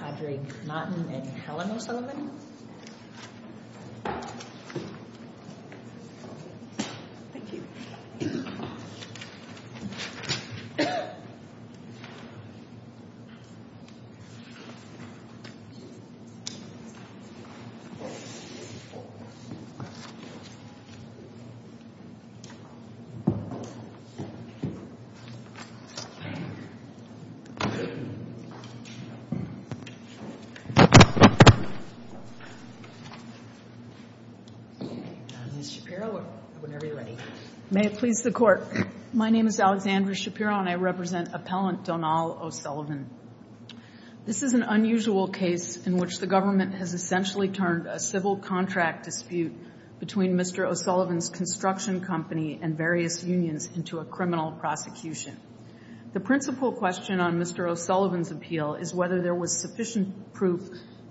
Patrick Naughton and Helen O'Sullivan May it please the Court. My name is Alexandra Shapiro and I represent Appellant Donal O'Sullivan. This is an unusual case in which the government has essentially turned a civil contract dispute between Mr. O'Sullivan's construction company and various unions into a criminal prosecution. The principal question on Mr. O'Sullivan's appeal is whether there was sufficient proof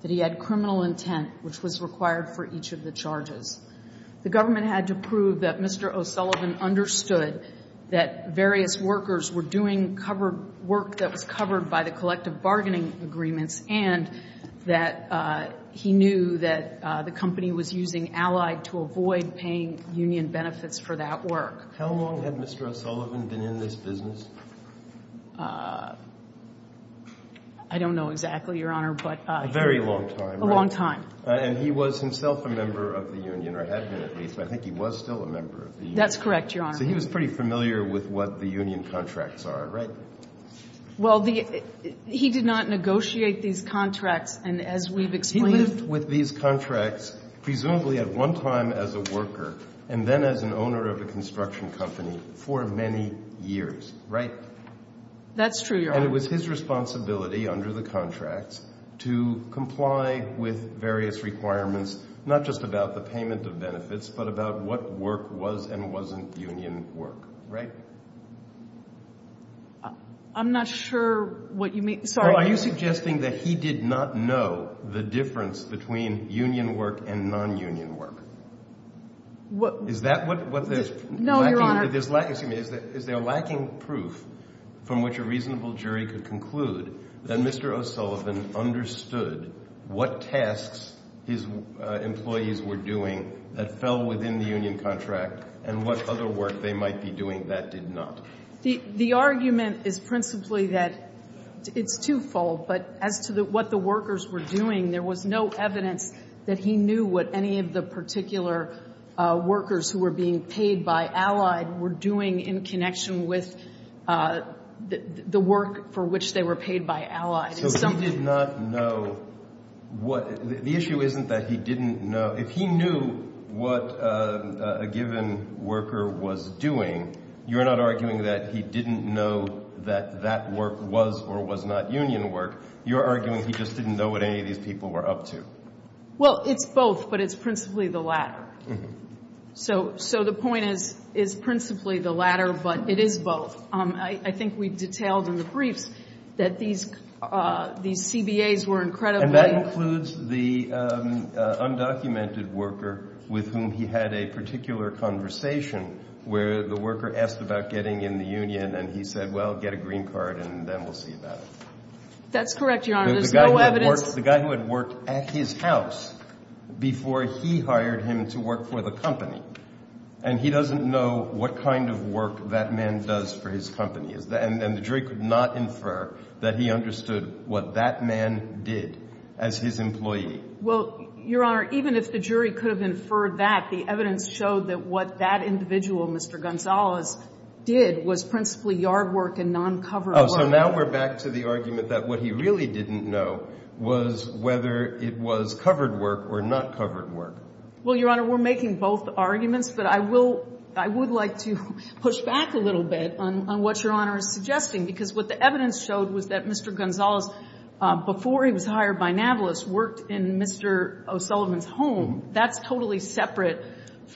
that he had criminal intent which was required for each of the charges. The government had to prove that Mr. O'Sullivan understood that various workers were doing work that was covered by the collective bargaining agreements and that he knew that the company was using Allied to avoid paying union benefits for that work. How long had Mr. O'Sullivan been in this business? I don't know exactly, Your Honor, but... A very long time, right? A long time. And he was himself a member of the union, or had been at least, but I think he was still a member of the union. That's correct, Your Honor. So he was pretty familiar with what the union contracts are, right? Well, he did not negotiate these contracts and as we've explained... He lived with these contracts presumably at one time as a worker and then as an owner of a construction company for many years, right? That's true, Your Honor. And it was his responsibility under the contracts to comply with various requirements, not just about the payment of benefits, but about what work was and wasn't union work, right? I'm not sure what you mean. Sorry. Well, are you suggesting that he did not know the difference between union work and non-union work? Is that what there's... No, Your Honor. Excuse me. Is there lacking proof from which a reasonable jury could conclude that Mr. O'Sullivan understood what tasks his employees were doing that fell within the union contract and what other work they might be doing that did not? The argument is principally that it's twofold. But as to what the workers were doing, there was no evidence that he knew what any of the particular workers who were being paid by Allied were doing in connection with the work for which they were paid by Allied. So he did not know what... The issue isn't that he didn't know. If he knew what a given worker was doing, you're not arguing that he didn't know that that work was or was not union work. You're arguing he just didn't know what any of these people were up to. Well, it's both, but it's principally the latter. So the point is principally the latter, but it is both. I think we've detailed in the briefs that these CBAs were incredibly... And that includes the undocumented worker with whom he had a particular conversation where the worker asked about getting in the union, and he said, well, get a green card, and then we'll see about it. That's correct, Your Honor. There's no evidence... The guy who had worked at his house before he hired him to work for the company, and he doesn't know what kind of work that man does for his company. And the jury could not infer that he understood what that man did as his employee. Well, Your Honor, even if the jury could have inferred that, the evidence showed that what that individual, Mr. Gonzalez, did was principally yard work and noncover work. So now we're back to the argument that what he really didn't know was whether it was covered work or not covered work. Well, Your Honor, we're making both arguments, but I will – I would like to push back a little bit on what Your Honor is suggesting, because what the evidence showed was that Mr. Gonzalez, before he was hired by Nablus, worked in Mr. O'Sullivan's home. That's totally separate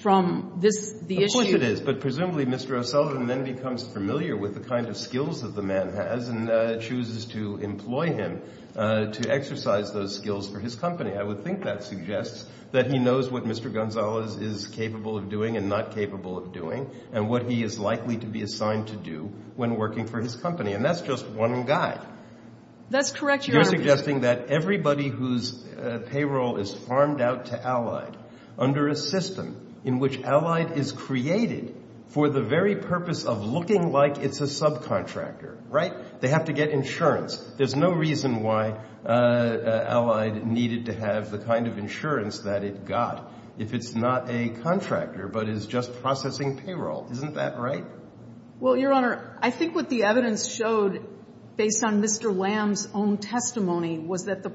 from this – the issue... But presumably Mr. O'Sullivan then becomes familiar with the kind of skills that the man has and chooses to employ him to exercise those skills for his company. I would think that suggests that he knows what Mr. Gonzalez is capable of doing and not capable of doing and what he is likely to be assigned to do when working for his company. And that's just one guide. That's correct, Your Honor. You're suggesting that everybody whose payroll is farmed out to Allied under a system in which Allied is created for the very purpose of looking like it's a subcontractor, right? They have to get insurance. There's no reason why Allied needed to have the kind of insurance that it got if it's not a contractor but is just processing payroll. Isn't that right? Well, Your Honor, I think what the evidence showed, based on Mr. Lamb's own testimony, was that the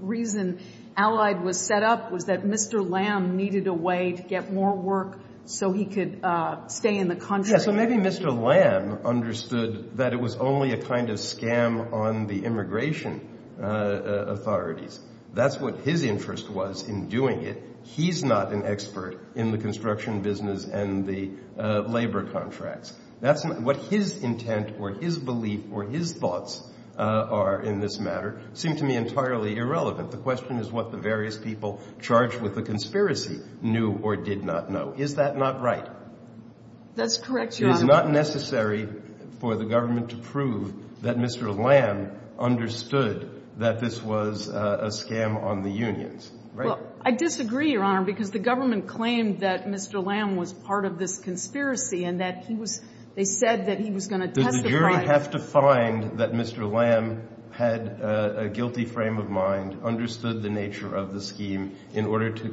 reason Allied was set up was that Mr. Lamb needed a way to get more work so he could stay in the country. Yeah, so maybe Mr. Lamb understood that it was only a kind of scam on the immigration authorities. That's what his interest was in doing it. He's not an expert in the construction business and the labor contracts. What his intent or his belief or his thoughts are in this matter seem to me entirely irrelevant. The question is what the various people charged with the conspiracy knew or did not know. Is that not right? That's correct, Your Honor. It is not necessary for the government to prove that Mr. Lamb understood that this was a scam on the unions, right? Well, I disagree, Your Honor, because the government claimed that Mr. Lamb was part of this conspiracy and that he was – they said that he was going to testify. Does the jury have to find that Mr. Lamb had a guilty frame of mind, understood the nature of the scheme in order to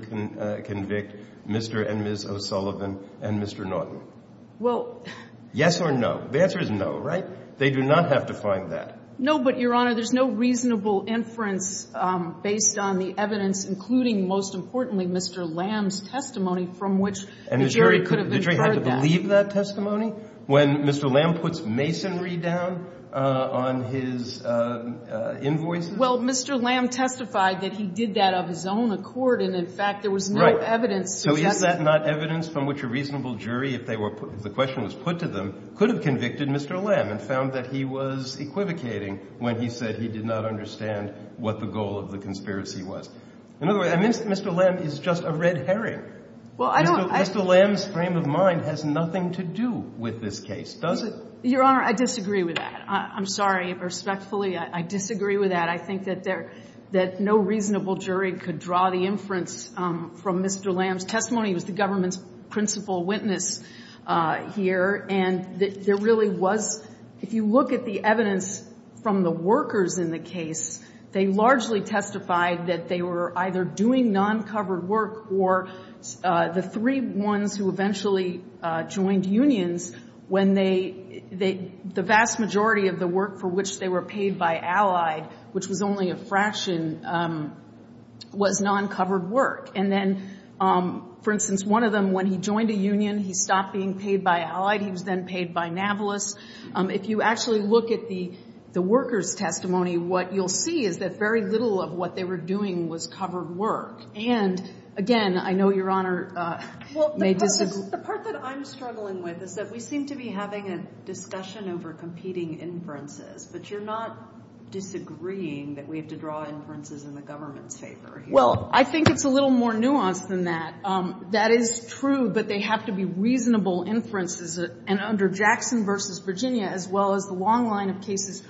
convict Mr. and Ms. O'Sullivan and Mr. Norton? Well – Yes or no? The answer is no, right? They do not have to find that. No, but, Your Honor, there's no reasonable inference based on the evidence, including, most importantly, Mr. Lamb's testimony from which the jury could have inferred that. And the jury had to believe that testimony when Mr. Lamb puts masonry down on his invoices? Well, Mr. Lamb testified that he did that of his own accord and, in fact, there was no evidence suggesting – when he said he did not understand what the goal of the conspiracy was. In other words, Mr. Lamb is just a red herring. Well, I don't – Mr. Lamb's frame of mind has nothing to do with this case, does it? Your Honor, I disagree with that. I'm sorry. Respectfully, I disagree with that. I think that there – that no reasonable jury could draw the inference from Mr. Lamb's testimony. He was the government's principal witness here. And there really was – if you look at the evidence from the workers in the case, they largely testified that they were either doing non-covered work or the three ones who eventually joined unions when they – the vast majority of the work for which they were paid by Allied, which was only a fraction, was non-covered work. And then, for instance, one of them, when he joined a union, he stopped being paid by Allied. He was then paid by Navalis. If you actually look at the workers' testimony, what you'll see is that very little of what they were doing was covered work. And, again, I know Your Honor may disagree. Well, the part that I'm struggling with is that we seem to be having a discussion over competing inferences, but you're not disagreeing that we have to draw inferences in the government's favor here. Well, I think it's a little more nuanced than that. That is true, but they have to be reasonable inferences. And under Jackson v. Virginia, as well as the long line of cases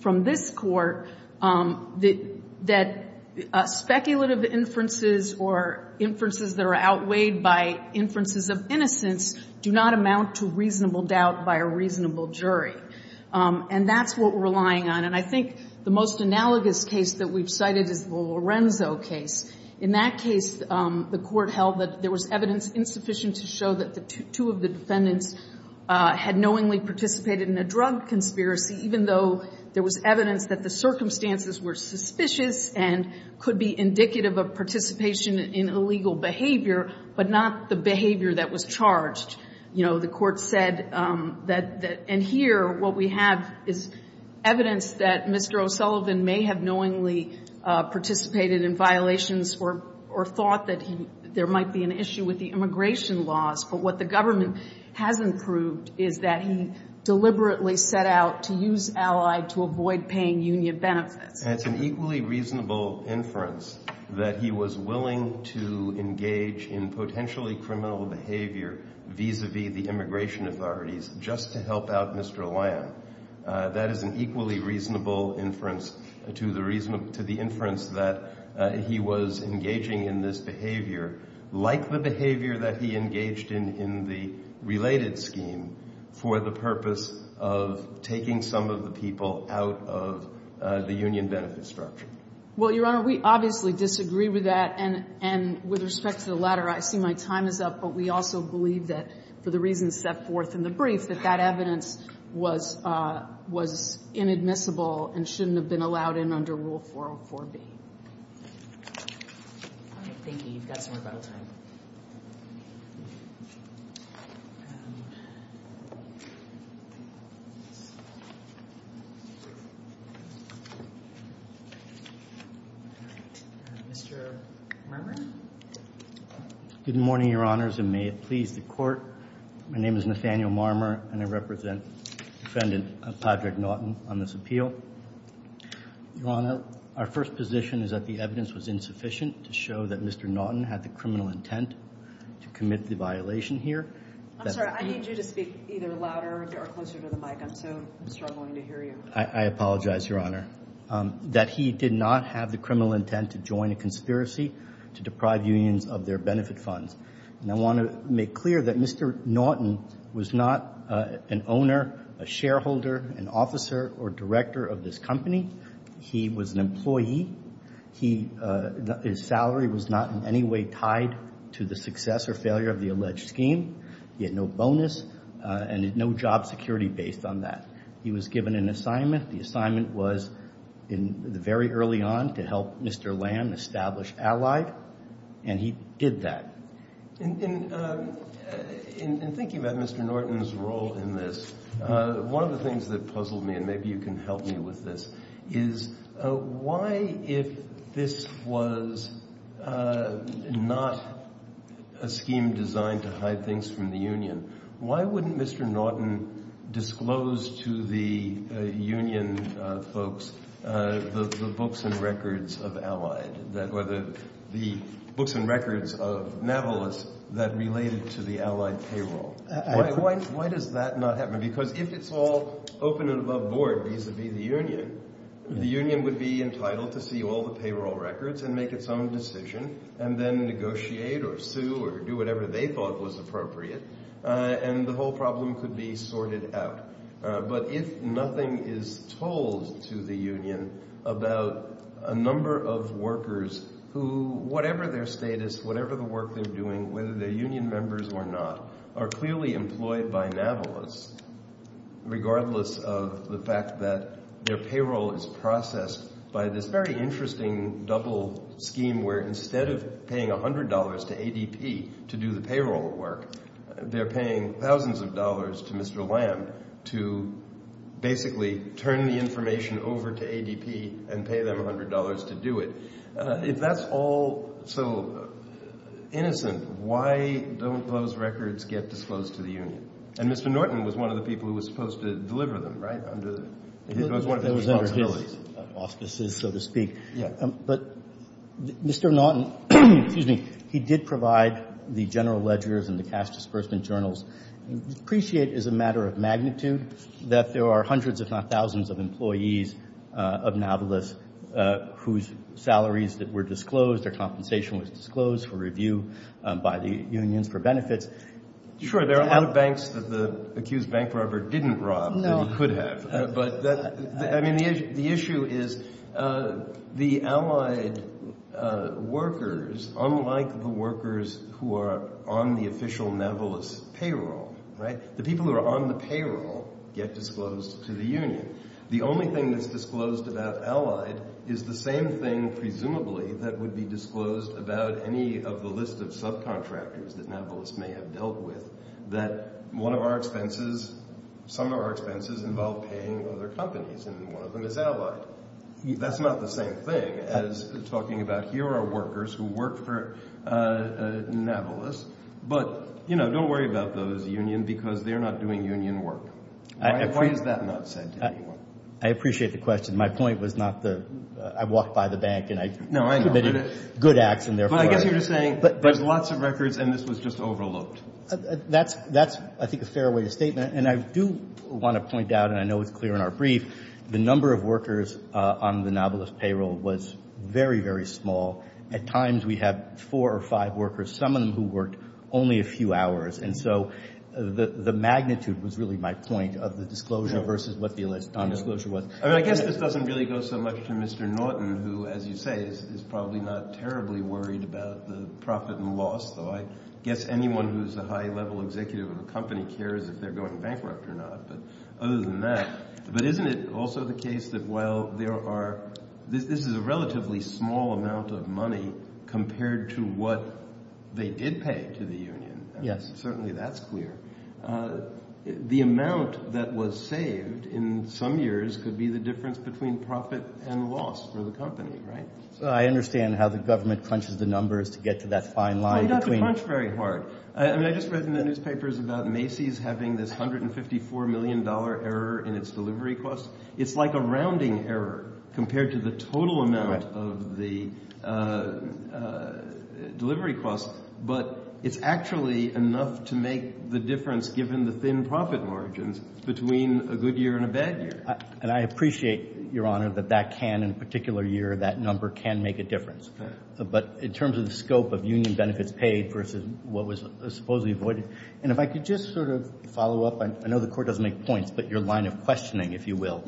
from this Court, that speculative inferences or inferences that are outweighed by inferences of innocence do not amount to reasonable doubt by a reasonable jury. And that's what we're relying on. And I think the most analogous case that we've cited is the Lorenzo case. In that case, the Court held that there was evidence insufficient to show that two of the defendants had knowingly participated in a drug conspiracy, even though there was evidence that the circumstances were suspicious and could be indicative of participation in illegal behavior, but not the behavior that was charged. You know, the Court said that in here, what we have is evidence that Mr. O'Sullivan may have knowingly participated in violations or thought that there might be an issue with the immigration laws, but what the government has improved is that he deliberately set out to use Allied to avoid paying union benefits. And it's an equally reasonable inference that he was willing to engage in potentially criminal behavior vis-a-vis the immigration authorities just to help out Mr. Lamb. That is an equally reasonable inference to the inference that he was engaging in this behavior, like the behavior that he engaged in in the related scheme for the purpose of taking some of the people out of the union benefit structure. Well, Your Honor, we obviously disagree with that. And with respect to the latter, I see my time is up. But we also believe that for the reasons set forth in the brief, that that evidence was inadmissible and shouldn't have been allowed in under Rule 404B. All right, thank you. You've got some rebuttal time. All right. Mr. Marmer? Good morning, Your Honors, and may it please the Court. My name is Nathaniel Marmer, and I represent the defendant, Patrick Naughton, on this appeal. Your Honor, our first position is that the evidence was insufficient to show that Mr. Naughton had the criminal intent to commit the violation here. I'm sorry, I need you to speak either louder or closer to the mic. I'm so struggling to hear you. I apologize, Your Honor, that he did not have the criminal intent to join a conspiracy to deprive unions of their benefit funds. And I want to make clear that Mr. Naughton was not an owner, a shareholder, an officer, or director of this company. He was an employee. His salary was not in any way tied to the success or failure of the alleged scheme. He had no bonus and no job security based on that. He was given an assignment. The assignment was very early on to help Mr. Lamb establish Allied, and he did that. In thinking about Mr. Naughton's role in this, one of the things that puzzled me, and maybe you can help me with this, is why, if this was not a scheme designed to hide things from the union, why wouldn't Mr. Naughton disclose to the union folks the books and records of Allied, the books and records of Navalis that related to the Allied payroll? Why does that not happen? Because if it's all open and above board vis-à-vis the union, the union would be entitled to see all the payroll records and make its own decision and then negotiate or sue or do whatever they thought was appropriate, and the whole problem could be sorted out. But if nothing is told to the union about a number of workers who, whatever their status, whatever the work they're doing, whether they're union members or not, are clearly employed by Navalis, regardless of the fact that their payroll is processed by this very interesting double scheme where instead of paying $100 to ADP to do the payroll work, they're paying thousands of dollars to Mr. Lamb to basically turn the information over to ADP and pay them $100 to do it. If that's all so innocent, why don't those records get disclosed to the union? And Mr. Naughton was one of the people who was supposed to deliver them, right? It was one of his responsibilities. So to speak. But Mr. Naughton, he did provide the general ledgers and the cash disbursement journals. We appreciate as a matter of magnitude that there are hundreds if not thousands of employees of Navalis whose salaries that were disclosed, their compensation was disclosed for review by the unions for benefits. Sure, there are a lot of banks that the accused bank robber didn't rob that he could have. The issue is the allied workers, unlike the workers who are on the official Navalis payroll, right? The people who are on the payroll get disclosed to the union. The only thing that's disclosed about allied is the same thing presumably that would be disclosed about any of the list of subcontractors that Navalis may have dealt with, that one of our expenses, some of our expenses involve paying other companies and one of them is allied. That's not the same thing as talking about here are workers who work for Navalis, but don't worry about those unions because they're not doing union work. Why is that not said to anyone? I appreciate the question. My point was not the – I walked by the bank and I – No, I know. – committed good acts and therefore – But I guess you're just saying there's lots of records and this was just overlooked. That's, I think, a fair way to state that. And I do want to point out, and I know it's clear in our brief, the number of workers on the Navalis payroll was very, very small. At times we had four or five workers, some of them who worked only a few hours. And so the magnitude was really my point of the disclosure versus what the undisclosure was. I guess this doesn't really go so much to Mr. Norton, who, as you say, is probably not terribly worried about the profit and loss, though I guess anyone who's a high-level executive of a company cares if they're going bankrupt or not. But other than that, but isn't it also the case that while there are – this is a relatively small amount of money compared to what they did pay to the union. Yes. Certainly that's clear. The amount that was saved in some years could be the difference between profit and loss for the company, right? I understand how the government crunches the numbers to get to that fine line. They don't crunch very hard. I mean, I just read in the newspapers about Macy's having this $154 million error in its delivery costs. It's like a rounding error compared to the total amount of the delivery costs, but it's actually enough to make the difference, given the thin profit margins, between a good year and a bad year. And I appreciate, Your Honor, that that can, in a particular year, that number can make a difference. But in terms of the scope of union benefits paid versus what was supposedly avoided – and if I could just sort of follow up. I know the Court doesn't make points, but your line of questioning, if you will,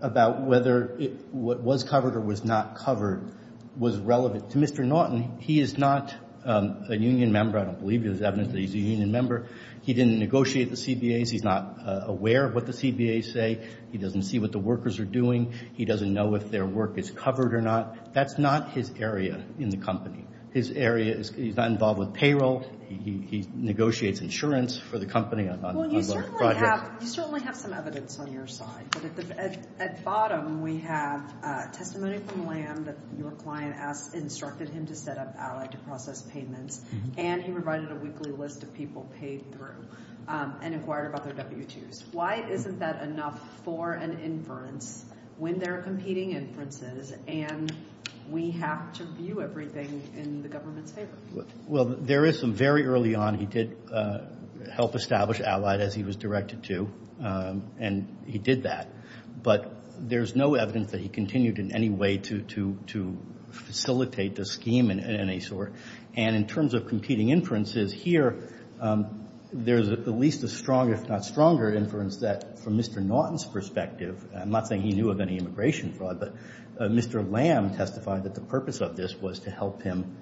about whether what was covered or was not covered was relevant to Mr. Naughton. He is not a union member. I don't believe there's evidence that he's a union member. He didn't negotiate the CBAs. He's not aware of what the CBAs say. He doesn't see what the workers are doing. He doesn't know if their work is covered or not. That's not his area in the company. His area is he's not involved with payroll. He negotiates insurance for the company. Well, you certainly have some evidence on your side, but at the bottom we have testimony from Lamb that your client instructed him to set up allied to process payments, and he provided a weekly list of people paid through and inquired about their W-2s. Why isn't that enough for an inference when there are competing inferences and we have to view everything in the government's favor? Well, there is some very early on. He did help establish allied as he was directed to, and he did that. But there's no evidence that he continued in any way to facilitate the scheme in any sort. And in terms of competing inferences, here there's at least a strong, if not stronger, inference that from Mr. Norton's perspective, I'm not saying he knew of any immigration fraud, but Mr. Lamb testified that the purpose of this was to help him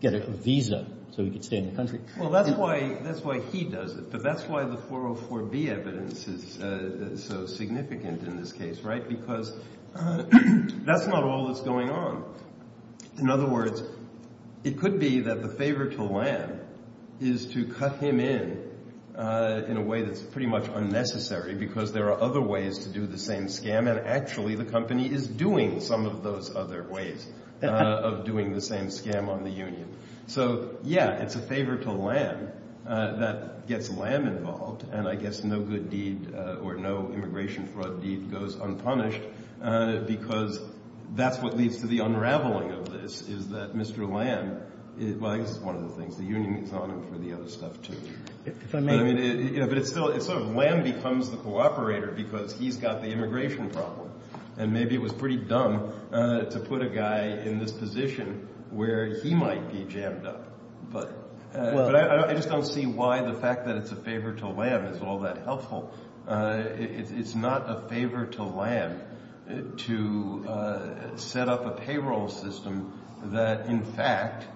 get a visa so he could stay in the country. Well, that's why he does it, but that's why the 404B evidence is so significant in this case, right? Because that's not all that's going on. In other words, it could be that the favor to Lamb is to cut him in in a way that's pretty much unnecessary because there are other ways to do the same scam, and actually the company is doing some of those other ways of doing the same scam on the union. So, yeah, it's a favor to Lamb that gets Lamb involved, and I guess no good deed or no immigration fraud deed goes unpunished because that's what leads to the unraveling of this, is that Mr. Lamb, well, I guess it's one of the things, the union is on him for the other stuff, too. But, I mean, it's sort of Lamb becomes the cooperator because he's got the immigration problem, and maybe it was pretty dumb to put a guy in this position where he might be jammed up. But I just don't see why the fact that it's a favor to Lamb is all that helpful. It's not a favor to Lamb to set up a payroll system that, in fact,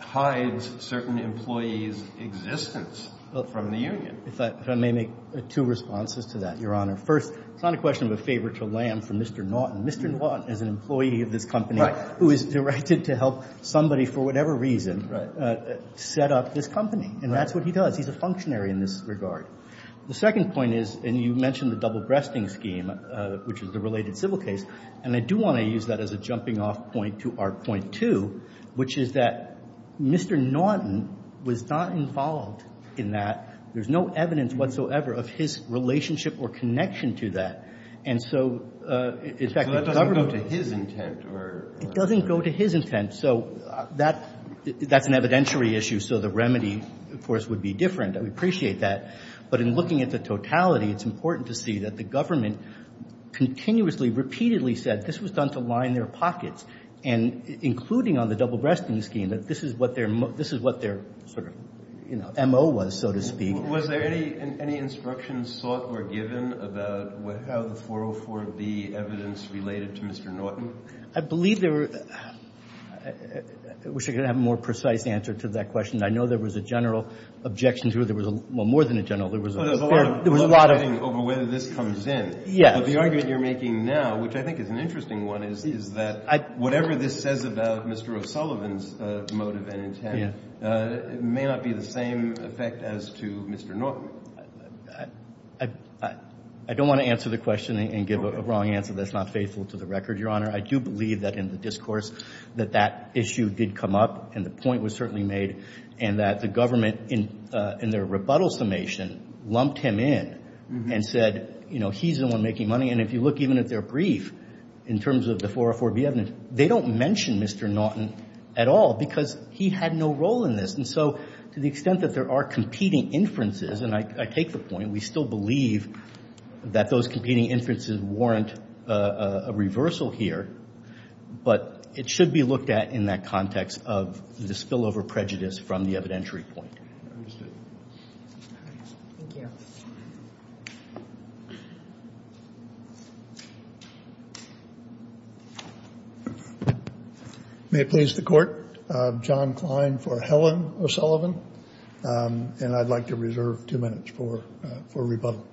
hides certain employees' existence from the union. If I may make two responses to that, Your Honor. First, it's not a question of a favor to Lamb for Mr. Norton. Mr. Norton is an employee of this company who is directed to help somebody for whatever reason set up this company, and that's what he does. He's a functionary in this regard. The second point is, and you mentioned the double-breasting scheme, which is the related civil case, and I do want to use that as a jumping-off point to our point two, which is that Mr. Norton was not involved in that. There's no evidence whatsoever of his relationship or connection to that. And so, in fact, the government— So that doesn't go to his intent or— It doesn't go to his intent. So that's an evidentiary issue, so the remedy, of course, would be different. We appreciate that. But in looking at the totality, it's important to see that the government continuously, repeatedly said this was done to line their pockets, and including on the double-breasting scheme, that this is what their sort of, you know, M.O. was, so to speak. Was there any instruction sought or given about how the 404B evidence related to Mr. Norton? I believe there were—I wish I could have a more precise answer to that question. I know there was a general objection to it. There was a—well, more than a general. There was a fair— Well, there's a lot of— There was a lot of— —questioning over whether this comes in. Yes. But the argument you're making now, which I think is an interesting one, is that— I— —whatever this says about Mr. O'Sullivan's motive and intent may not be the same effect as to Mr. Norton. I don't want to answer the question and give a wrong answer that's not faithful to the record, Your Honor. I do believe that in the discourse that that issue did come up and the point was certainly made and that the government in their rebuttal summation lumped him in and said, you know, he's the one making money. And if you look even at their brief in terms of the 404B evidence, they don't mention Mr. Norton at all because he had no role in this. And so to the extent that there are competing inferences, and I take the point, we still believe that those competing inferences warrant a reversal here. But it should be looked at in that context of the spillover prejudice from the evidentiary point. I understand. All right. Thank you. May it please the Court, John Klein for Helen O'Sullivan. And I'd like to reserve two minutes for rebuttal.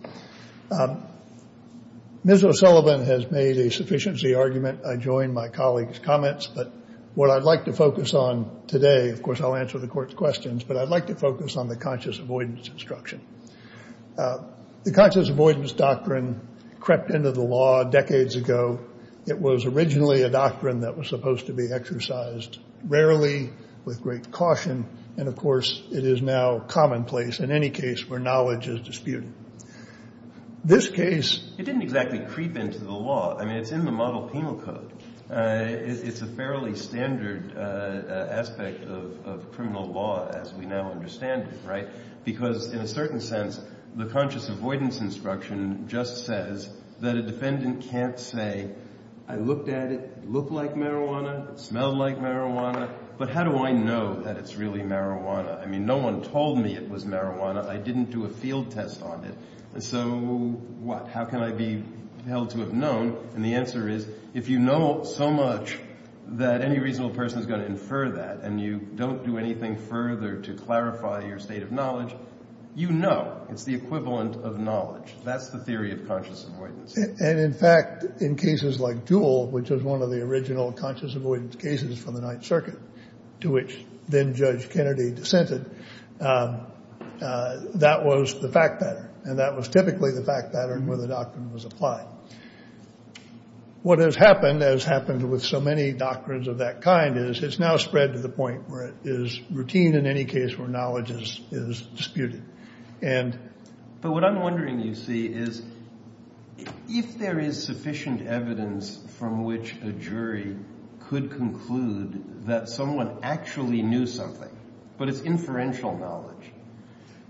Ms. O'Sullivan has made a sufficiency argument. I join my colleague's comments. But what I'd like to focus on today, of course I'll answer the Court's questions, but I'd like to focus on the conscious avoidance instruction. The conscious avoidance doctrine crept into the law decades ago. It was originally a doctrine that was supposed to be exercised rarely with great caution. And, of course, it is now commonplace in any case where knowledge is disputed. This case didn't exactly creep into the law. I mean, it's in the model penal code. It's a fairly standard aspect of criminal law as we now understand it, right, because in a certain sense the conscious avoidance instruction just says that a defendant can't say, I looked at it, it looked like marijuana, it smelled like marijuana, but how do I know that it's really marijuana? I mean, no one told me it was marijuana. I didn't do a field test on it. So what? How can I be held to have known? And the answer is if you know so much that any reasonable person is going to infer that and you don't do anything further to clarify your state of knowledge, you know. It's the equivalent of knowledge. That's the theory of conscious avoidance. And, in fact, in cases like Jewell, which was one of the original conscious avoidance cases from the Ninth Circuit to which then-Judge Kennedy dissented, that was the fact pattern, and that was typically the fact pattern where the doctrine was applied. What has happened, as happened with so many doctrines of that kind, is it's now spread to the point where it is routine in any case where knowledge is disputed. But what I'm wondering, you see, is if there is sufficient evidence from which a jury could conclude that someone actually knew something, but it's inferential knowledge,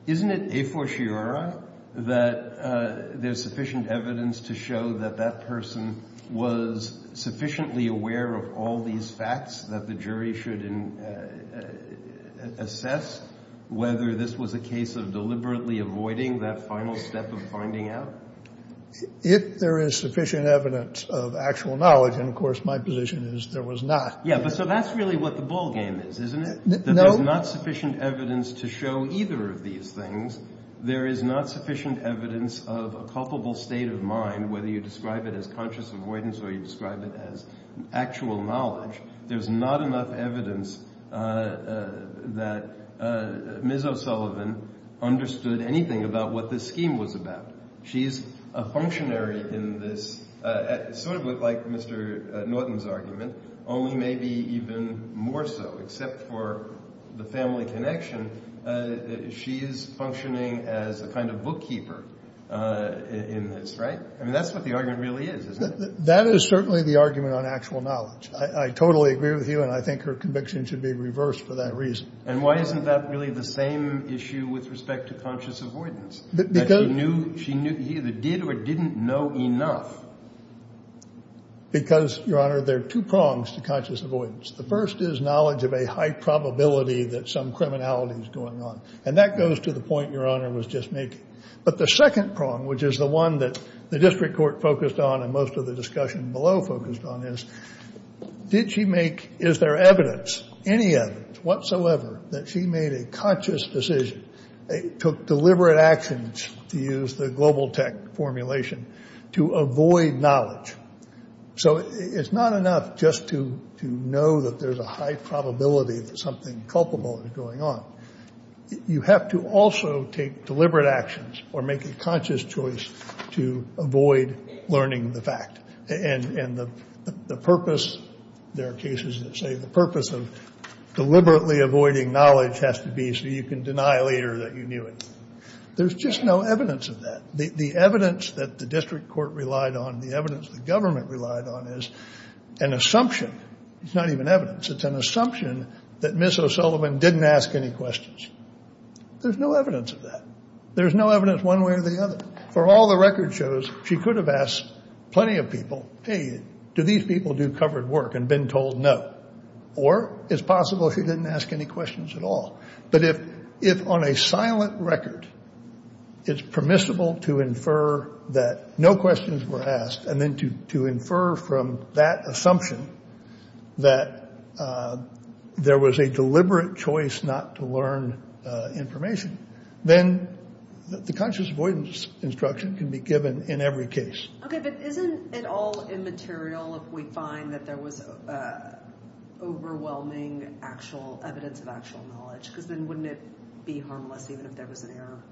isn't it a fortiori that there's sufficient evidence to show that that person was sufficiently aware of all these facts that the jury should assess, whether this was a case of deliberately avoiding that final step of finding out? If there is sufficient evidence of actual knowledge, and, of course, my position is there was not. Yeah, but so that's really what the ballgame is, isn't it? No. That there's not sufficient evidence to show either of these things. There is not sufficient evidence of a culpable state of mind, whether you describe it as conscious avoidance or you describe it as actual knowledge. There's not enough evidence that Ms. O'Sullivan understood anything about what this scheme was about. She's a functionary in this, sort of like Mr. Norton's argument, only maybe even more so. Except for the family connection, she is functioning as a kind of bookkeeper in this, right? I mean, that's what the argument really is, isn't it? That is certainly the argument on actual knowledge. I totally agree with you, and I think her conviction should be reversed for that reason. And why isn't that really the same issue with respect to conscious avoidance? She either did or didn't know enough. Because, Your Honor, there are two prongs to conscious avoidance. The first is knowledge of a high probability that some criminality is going on, and that goes to the point Your Honor was just making. But the second prong, which is the one that the district court focused on and most of the discussion below focused on, is, did she make, is there evidence, any evidence whatsoever that she made a conscious decision, took deliberate actions, to use the global tech formulation, to avoid knowledge? So it's not enough just to know that there's a high probability that something culpable is going on. You have to also take deliberate actions or make a conscious choice to avoid learning the fact. And the purpose, there are cases that say the purpose of deliberately avoiding knowledge has to be so you can deny later that you knew it. There's just no evidence of that. The evidence that the district court relied on, the evidence the government relied on, is an assumption. It's not even evidence. It's an assumption that Ms. O'Sullivan didn't ask any questions. There's no evidence of that. There's no evidence one way or the other. For all the record shows, she could have asked plenty of people, hey, do these people do covered work, and been told no. Or it's possible she didn't ask any questions at all. But if on a silent record it's permissible to infer that no questions were asked and then to infer from that assumption that there was a deliberate choice not to learn information, then the conscious avoidance instruction can be given in every case. Okay, but isn't it all immaterial if we find that there was overwhelming evidence of actual knowledge? Because then wouldn't it be harmless even if there was an error?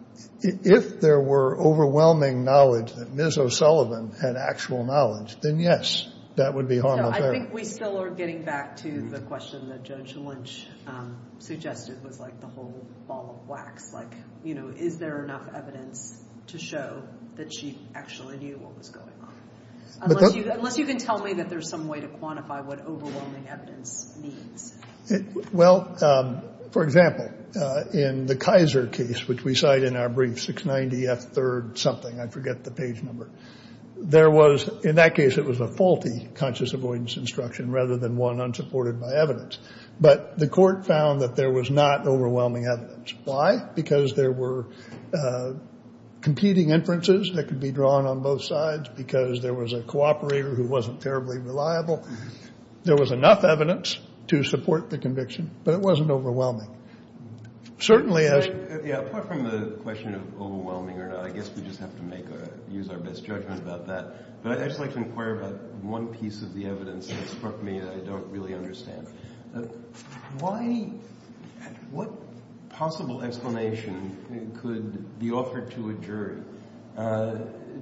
If there were overwhelming knowledge that Ms. O'Sullivan had actual knowledge, then, yes, that would be harmless. I think we still are getting back to the question that Judge Lynch suggested was like the whole ball of wax, like, you know, is there enough evidence to show that she actually knew what was going on? Unless you can tell me that there's some way to quantify what overwhelming evidence means. Well, for example, in the Kaiser case, which we cite in our brief, 690F3rd something, I forget the page number, there was in that case it was a faulty conscious avoidance instruction rather than one unsupported by evidence. But the court found that there was not overwhelming evidence. Why? Because there were competing inferences that could be drawn on both sides because there was a cooperator who wasn't terribly reliable. There was enough evidence to support the conviction, but it wasn't overwhelming. Certainly, as— Yeah, apart from the question of overwhelming or not, I guess we just have to make or use our best judgment about that. But I'd just like to inquire about one piece of the evidence that struck me that I don't really understand. Why—what possible explanation could be offered to a jury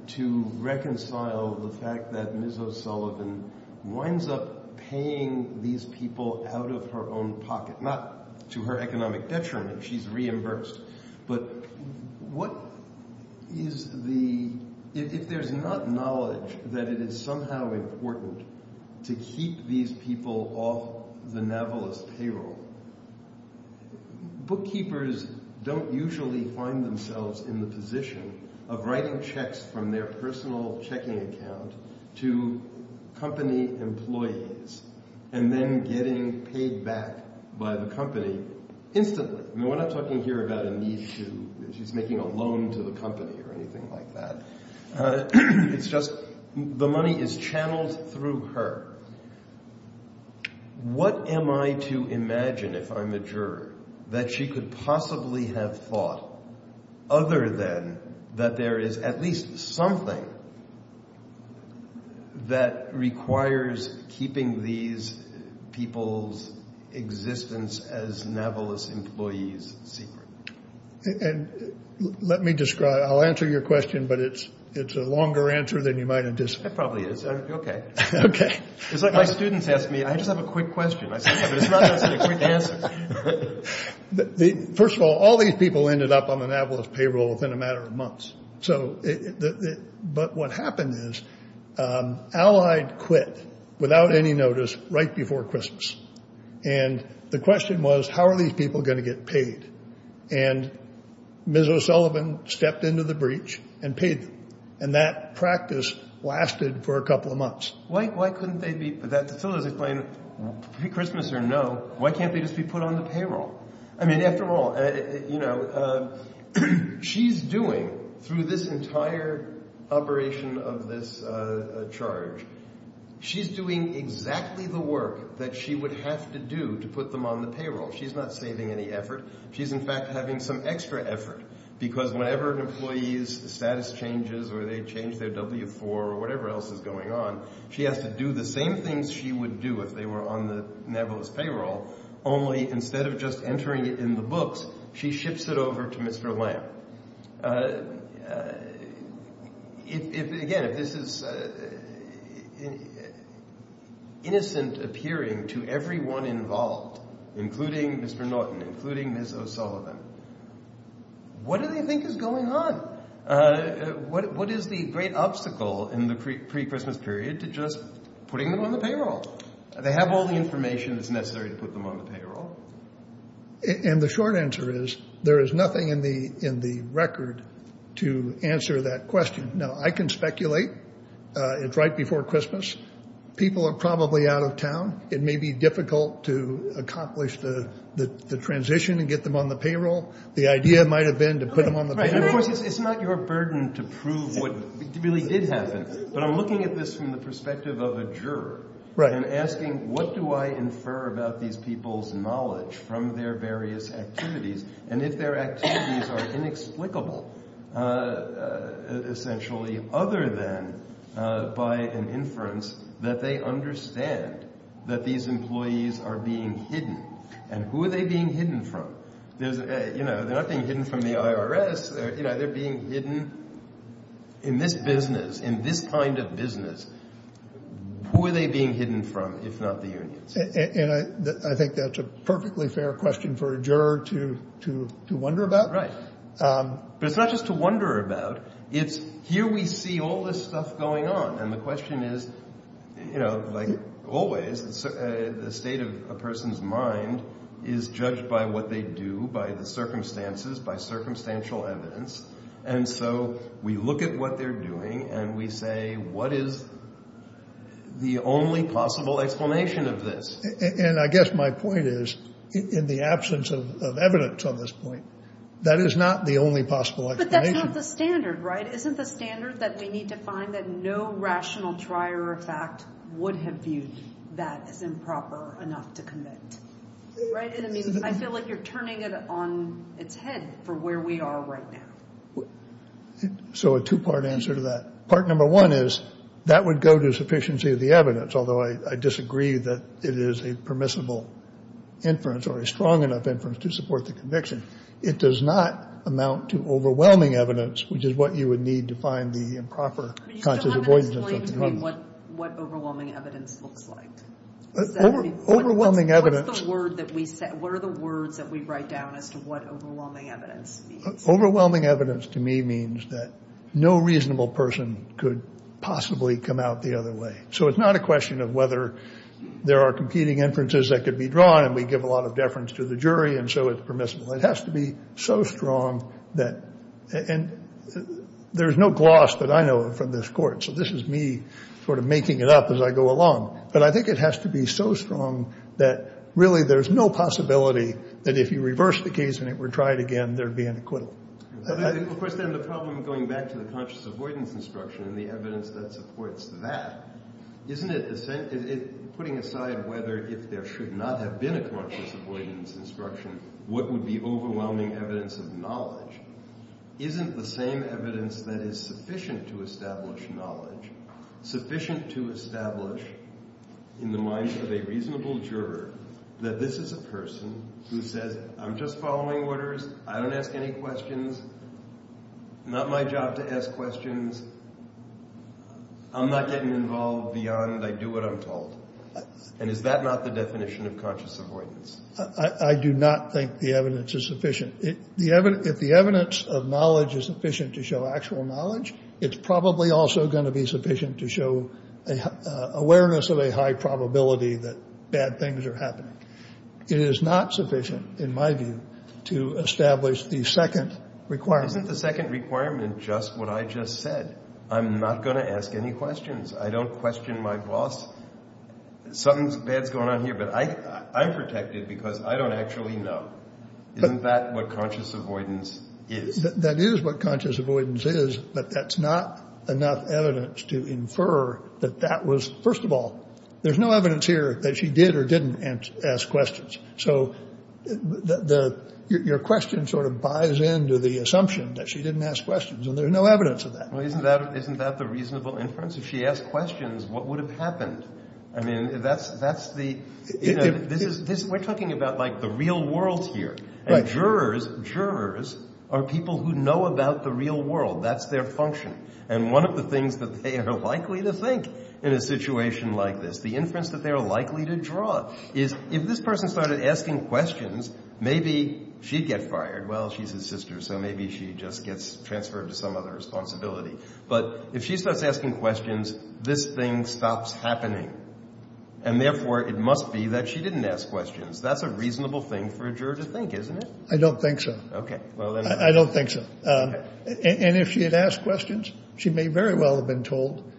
to reconcile the fact that Ms. O'Sullivan winds up paying these people out of her own pocket? Not to her economic detriment. She's reimbursed. But what is the—if there's not knowledge that it is somehow important to keep these people off the navalist payroll, bookkeepers don't usually find themselves in the position of writing checks from their personal checking account to company employees and then getting paid back by the company instantly. We're not talking here about a need to—she's making a loan to the company or anything like that. It's just the money is channeled through her. What am I to imagine, if I'm a juror, that she could possibly have thought other than that there is at least something that requires keeping these people's existence as navalist employees secret? And let me describe—I'll answer your question, but it's a longer answer than you might have— It probably is. Okay. It's like my students ask me. I just have a quick question. I say something, but it's not necessarily a quick answer. First of all, all these people ended up on the navalist payroll within a matter of months. But what happened is Allied quit without any notice right before Christmas. And the question was, how are these people going to get paid? And Ms. O'Sullivan stepped into the breach and paid them. And that practice lasted for a couple of months. Why couldn't they be—the fellows explained, Christmas or no, why can't they just be put on the payroll? I mean, after all, she's doing, through this entire operation of this charge, she's doing exactly the work that she would have to do to put them on the payroll. She's not saving any effort. She's, in fact, having some extra effort because whenever an employee's status changes or they change their W-4 or whatever else is going on, she has to do the same things she would do if they were on the navalist payroll, only instead of just entering it in the books, she ships it over to Mr. Lamb. If, again, if this is innocent appearing to everyone involved, including Mr. Norton, including Ms. O'Sullivan, what do they think is going on? What is the great obstacle in the pre-Christmas period to just putting them on the payroll? They have all the information that's necessary to put them on the payroll. And the short answer is there is nothing in the record to answer that question. Now, I can speculate. It's right before Christmas. People are probably out of town. It may be difficult to accomplish the transition and get them on the payroll. The idea might have been to put them on the payroll. It's not your burden to prove what really did happen, but I'm looking at this from the perspective of a juror and asking what do I infer about these people's knowledge from their various activities and if their activities are inexplicable, essentially, other than by an inference that they understand that these employees are being hidden. And who are they being hidden from? They're not being hidden from the IRS. They're being hidden in this business, in this kind of business. Who are they being hidden from, if not the unions? And I think that's a perfectly fair question for a juror to wonder about. Right. But it's not just to wonder about. It's here we see all this stuff going on. And the question is, like always, the state of a person's mind is judged by what they do, by the circumstances, by circumstantial evidence. And so we look at what they're doing and we say, what is the only possible explanation of this? And I guess my point is, in the absence of evidence on this point, that is not the only possible explanation. But that's not the standard, right? Isn't the standard that they need to find that no rational trier of fact would have viewed that as improper enough to commit? Right? I mean, I feel like you're turning it on its head for where we are right now. So a two-part answer to that. Part number one is that would go to sufficiency of the evidence, although I disagree that it is a permissible inference or a strong enough inference to support the conviction. It does not amount to overwhelming evidence, which is what you would need to find the improper conscious avoidance of something. What overwhelming evidence looks like? Overwhelming evidence. What are the words that we write down as to what overwhelming evidence means? Overwhelming evidence to me means that no reasonable person could possibly come out the other way. So it's not a question of whether there are competing inferences that could be drawn. And we give a lot of deference to the jury. And so it's permissible. It has to be so strong that there is no gloss that I know of from this court. So this is me sort of making it up as I go along. But I think it has to be so strong that really there's no possibility that if you reverse the case and it were tried again, there'd be an acquittal. Of course, then the problem going back to the conscious avoidance instruction and the evidence that supports that, isn't it the same? Putting aside whether if there should not have been a conscious avoidance instruction, what would be overwhelming evidence of knowledge? Isn't the same evidence that is sufficient to establish knowledge sufficient to establish in the minds of a reasonable juror that this is a person who says, I'm just following orders. I don't ask any questions. Not my job to ask questions. I'm not getting involved beyond I do what I'm told. And is that not the definition of conscious avoidance? I do not think the evidence is sufficient. If the evidence of knowledge is sufficient to show actual knowledge, it's probably also going to be sufficient to show awareness of a high probability that bad things are happening. It is not sufficient, in my view, to establish the second requirement. Isn't the second requirement just what I just said? I'm not going to ask any questions. I don't question my boss. Something bad's going on here. But I'm protected because I don't actually know. Isn't that what conscious avoidance is? That is what conscious avoidance is. But that's not enough evidence to infer that that was, first of all, there's no evidence here that she did or didn't ask questions. So your question sort of buys into the assumption that she didn't ask questions. And there's no evidence of that. Well, isn't that the reasonable inference? If she asked questions, what would have happened? I mean, that's the, you know, this is, we're talking about, like, the real world here. And jurors, jurors are people who know about the real world. That's their function. And one of the things that they are likely to think in a situation like this, the inference that they are likely to draw, is if this person started asking questions, maybe she'd get fired. Well, she's his sister, so maybe she just gets transferred to some other responsibility. But if she starts asking questions, this thing stops happening. And, therefore, it must be that she didn't ask questions. That's a reasonable thing for a juror to think, isn't it? I don't think so. Okay. I don't think so. And if she had asked questions, she may very well have been told,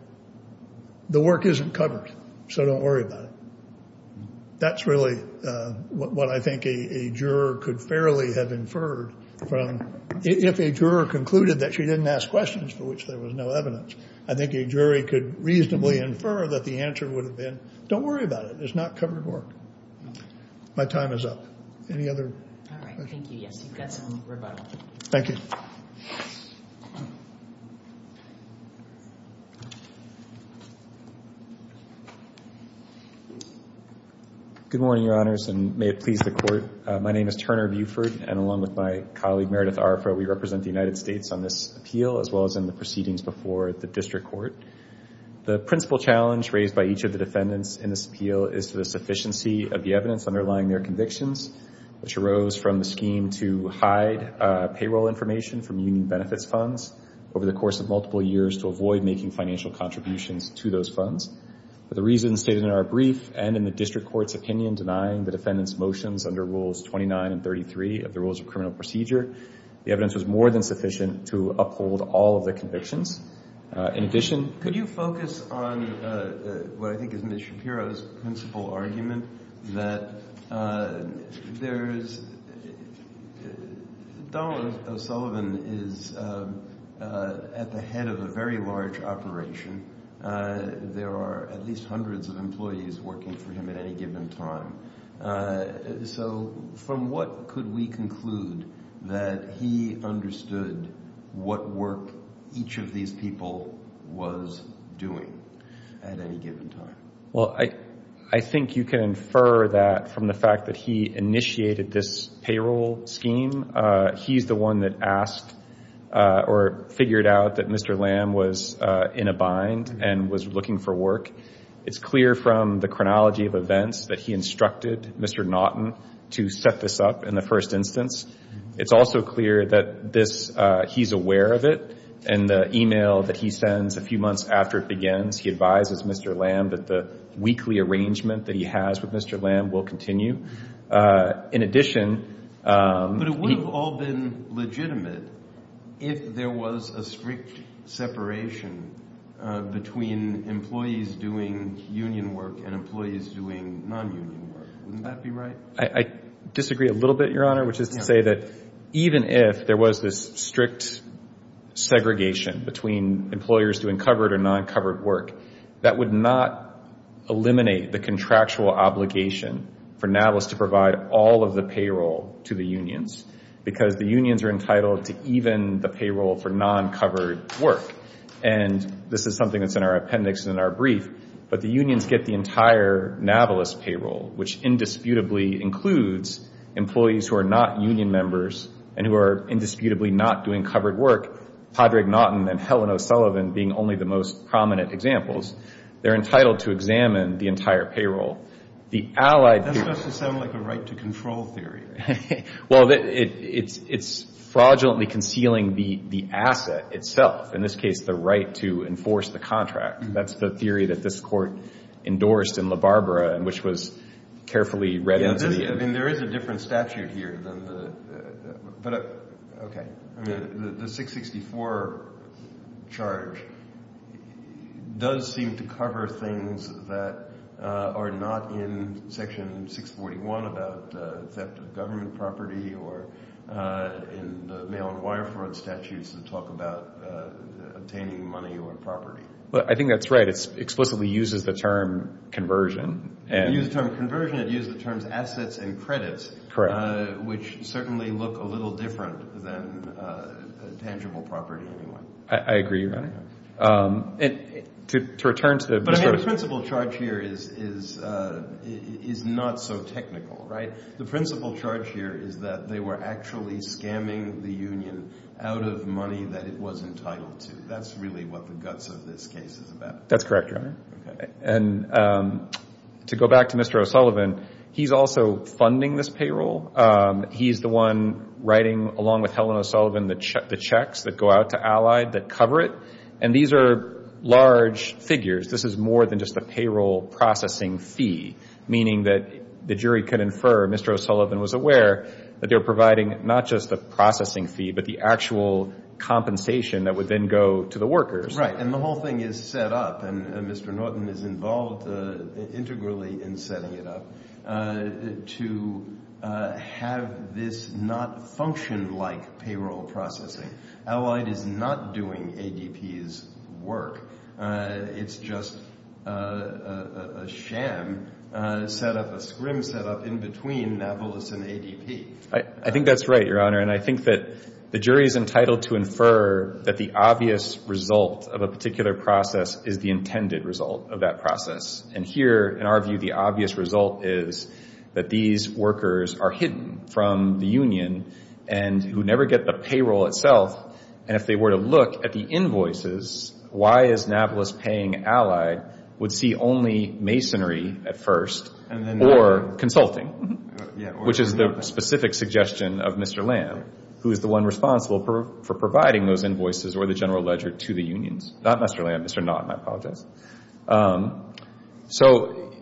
the work isn't covered, so don't worry about it. That's really what I think a juror could fairly have inferred from, if a juror concluded that she didn't ask questions, for which there was no evidence, I think a jury could reasonably infer that the answer would have been, don't worry about it. It's not covered work. My time is up. Any other? All right. Thank you. Yes, you've got some rebuttal. Thank you. Good morning, Your Honors, and may it please the Court. My name is Turner Buford, and along with my colleague, Meredith Arfro, we represent the United States on this appeal, as well as in the proceedings before the District Court. The principal challenge raised by each of the defendants in this appeal is the sufficiency of the evidence underlying their convictions, which arose from the scheme to hide payroll information from union benefits funds over the course of multiple years to avoid making financial contributions to those funds. For the reasons stated in our brief, and in the District Court's opinion, denying the defendants' motions under Rules 29 and 33 of the Rules of Criminal Procedure, the evidence was more than sufficient to uphold all of their convictions. In addition, could you focus on what I think is Ms. Shapiro's principal argument, that Donald O'Sullivan is at the head of a very large operation. There are at least hundreds of employees working for him at any given time. So from what could we conclude that he understood what work each of these people was doing at any given time? Well, I think you can infer that from the fact that he initiated this payroll scheme. He's the one that asked or figured out that Mr. Lamb was in a bind and was looking for work. It's clear from the chronology of events that he instructed Mr. Naughton to set this up in the first instance. It's also clear that he's aware of it, and the email that he sends a few months after it begins, he advises Mr. Lamb that the weekly arrangement that he has with Mr. Lamb will continue. But it would have all been legitimate if there was a strict separation between employees doing union work and employees doing non-union work. Wouldn't that be right? I disagree a little bit, Your Honor, which is to say that even if there was this strict segregation between employers doing covered or non-covered work, that would not eliminate the contractual obligation for Nautilus to provide all of the payroll to the unions because the unions are entitled to even the payroll for non-covered work. And this is something that's in our appendix and in our brief, but the unions get the entire Nautilus payroll, which indisputably includes employees who are not union members and who are indisputably not doing covered work, Padraig Naughton and Helen O'Sullivan being only the most prominent examples. They're entitled to examine the entire payroll. That's supposed to sound like a right-to-control theory. Well, it's fraudulently concealing the asset itself, in this case the right to enforce the contract. That's the theory that this Court endorsed in LaBarbera, which was carefully read into the end. There is a different statute here. The 664 charge does seem to cover things that are not in Section 641 about theft of government property or in the mail-and-wire fraud statutes that talk about obtaining money or property. I think that's right. It explicitly uses the term conversion. If it used the term conversion, it used the terms assets and credits, which certainly look a little different than tangible property anyway. I agree. But the principal charge here is not so technical. The principal charge here is that they were actually scamming the union out of money that it was entitled to. That's really what the guts of this case is about. That's correct, Your Honor. And to go back to Mr. O'Sullivan, he's also funding this payroll. He's the one writing, along with Helen O'Sullivan, the checks that go out to Allied that cover it. And these are large figures. This is more than just a payroll processing fee, meaning that the jury could infer, Mr. O'Sullivan was aware, that they were providing not just a processing fee but the actual compensation that would then go to the workers. Right. And the whole thing is set up, and Mr. Norton is involved integrally in setting it up, to have this not function like payroll processing. Allied is not doing ADP's work. It's just a sham set up, a scrim set up in between Nablus and ADP. I think that's right, Your Honor. And I think that the jury is entitled to infer that the obvious result of a particular process is the intended result of that process. And here, in our view, the obvious result is that these workers are hidden from the union and who never get the payroll itself. And if they were to look at the invoices, why is Nablus paying Allied would see only masonry at first or consulting, which is the specific suggestion of Mr. Lamb, who is the one responsible for providing those invoices or the general ledger to the unions. Not Mr. Lamb, Mr. Norton, I apologize. So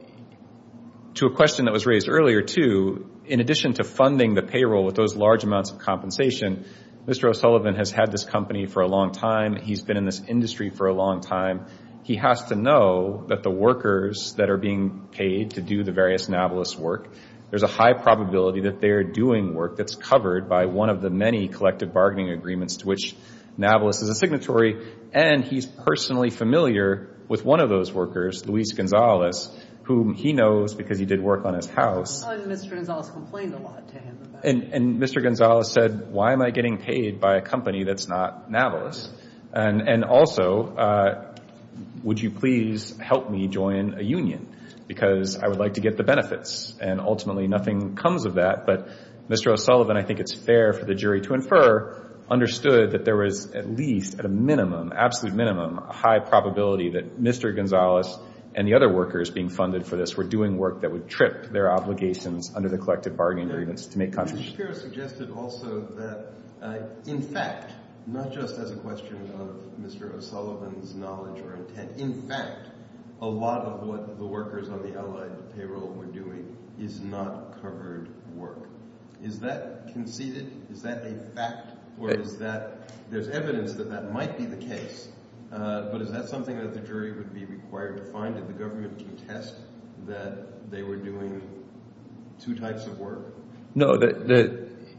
to a question that was raised earlier, too, in addition to funding the payroll with those large amounts of compensation, Mr. O'Sullivan has had this company for a long time. He's been in this industry for a long time. He has to know that the workers that are being paid to do the various Nablus work, there's a high probability that they are doing work that's covered by one of the many collective bargaining agreements to which Nablus is a signatory. And he's personally familiar with one of those workers, Luis Gonzalez, whom he knows because he did work on his house. And Mr. Gonzalez complained a lot to him about it. And Mr. Gonzalez said, why am I getting paid by a company that's not Nablus? And also, would you please help me join a union because I would like to get the benefits. And ultimately nothing comes of that. But Mr. O'Sullivan, I think it's fair for the jury to infer, understood that there was at least at a minimum, absolute minimum, a high probability that Mr. Gonzalez and the other workers being funded for this were doing work that would trip their obligations under the collective bargaining agreements to make compensation. Mr. Shapiro suggested also that in fact, not just as a question of Mr. O'Sullivan's knowledge or intent, in fact, a lot of what the workers on the Allied payroll were doing is not covered work. Is that conceded? Is that a fact? Or is that – there's evidence that that might be the case. But is that something that the jury would be required to find? Did the government contest that they were doing two types of work? No.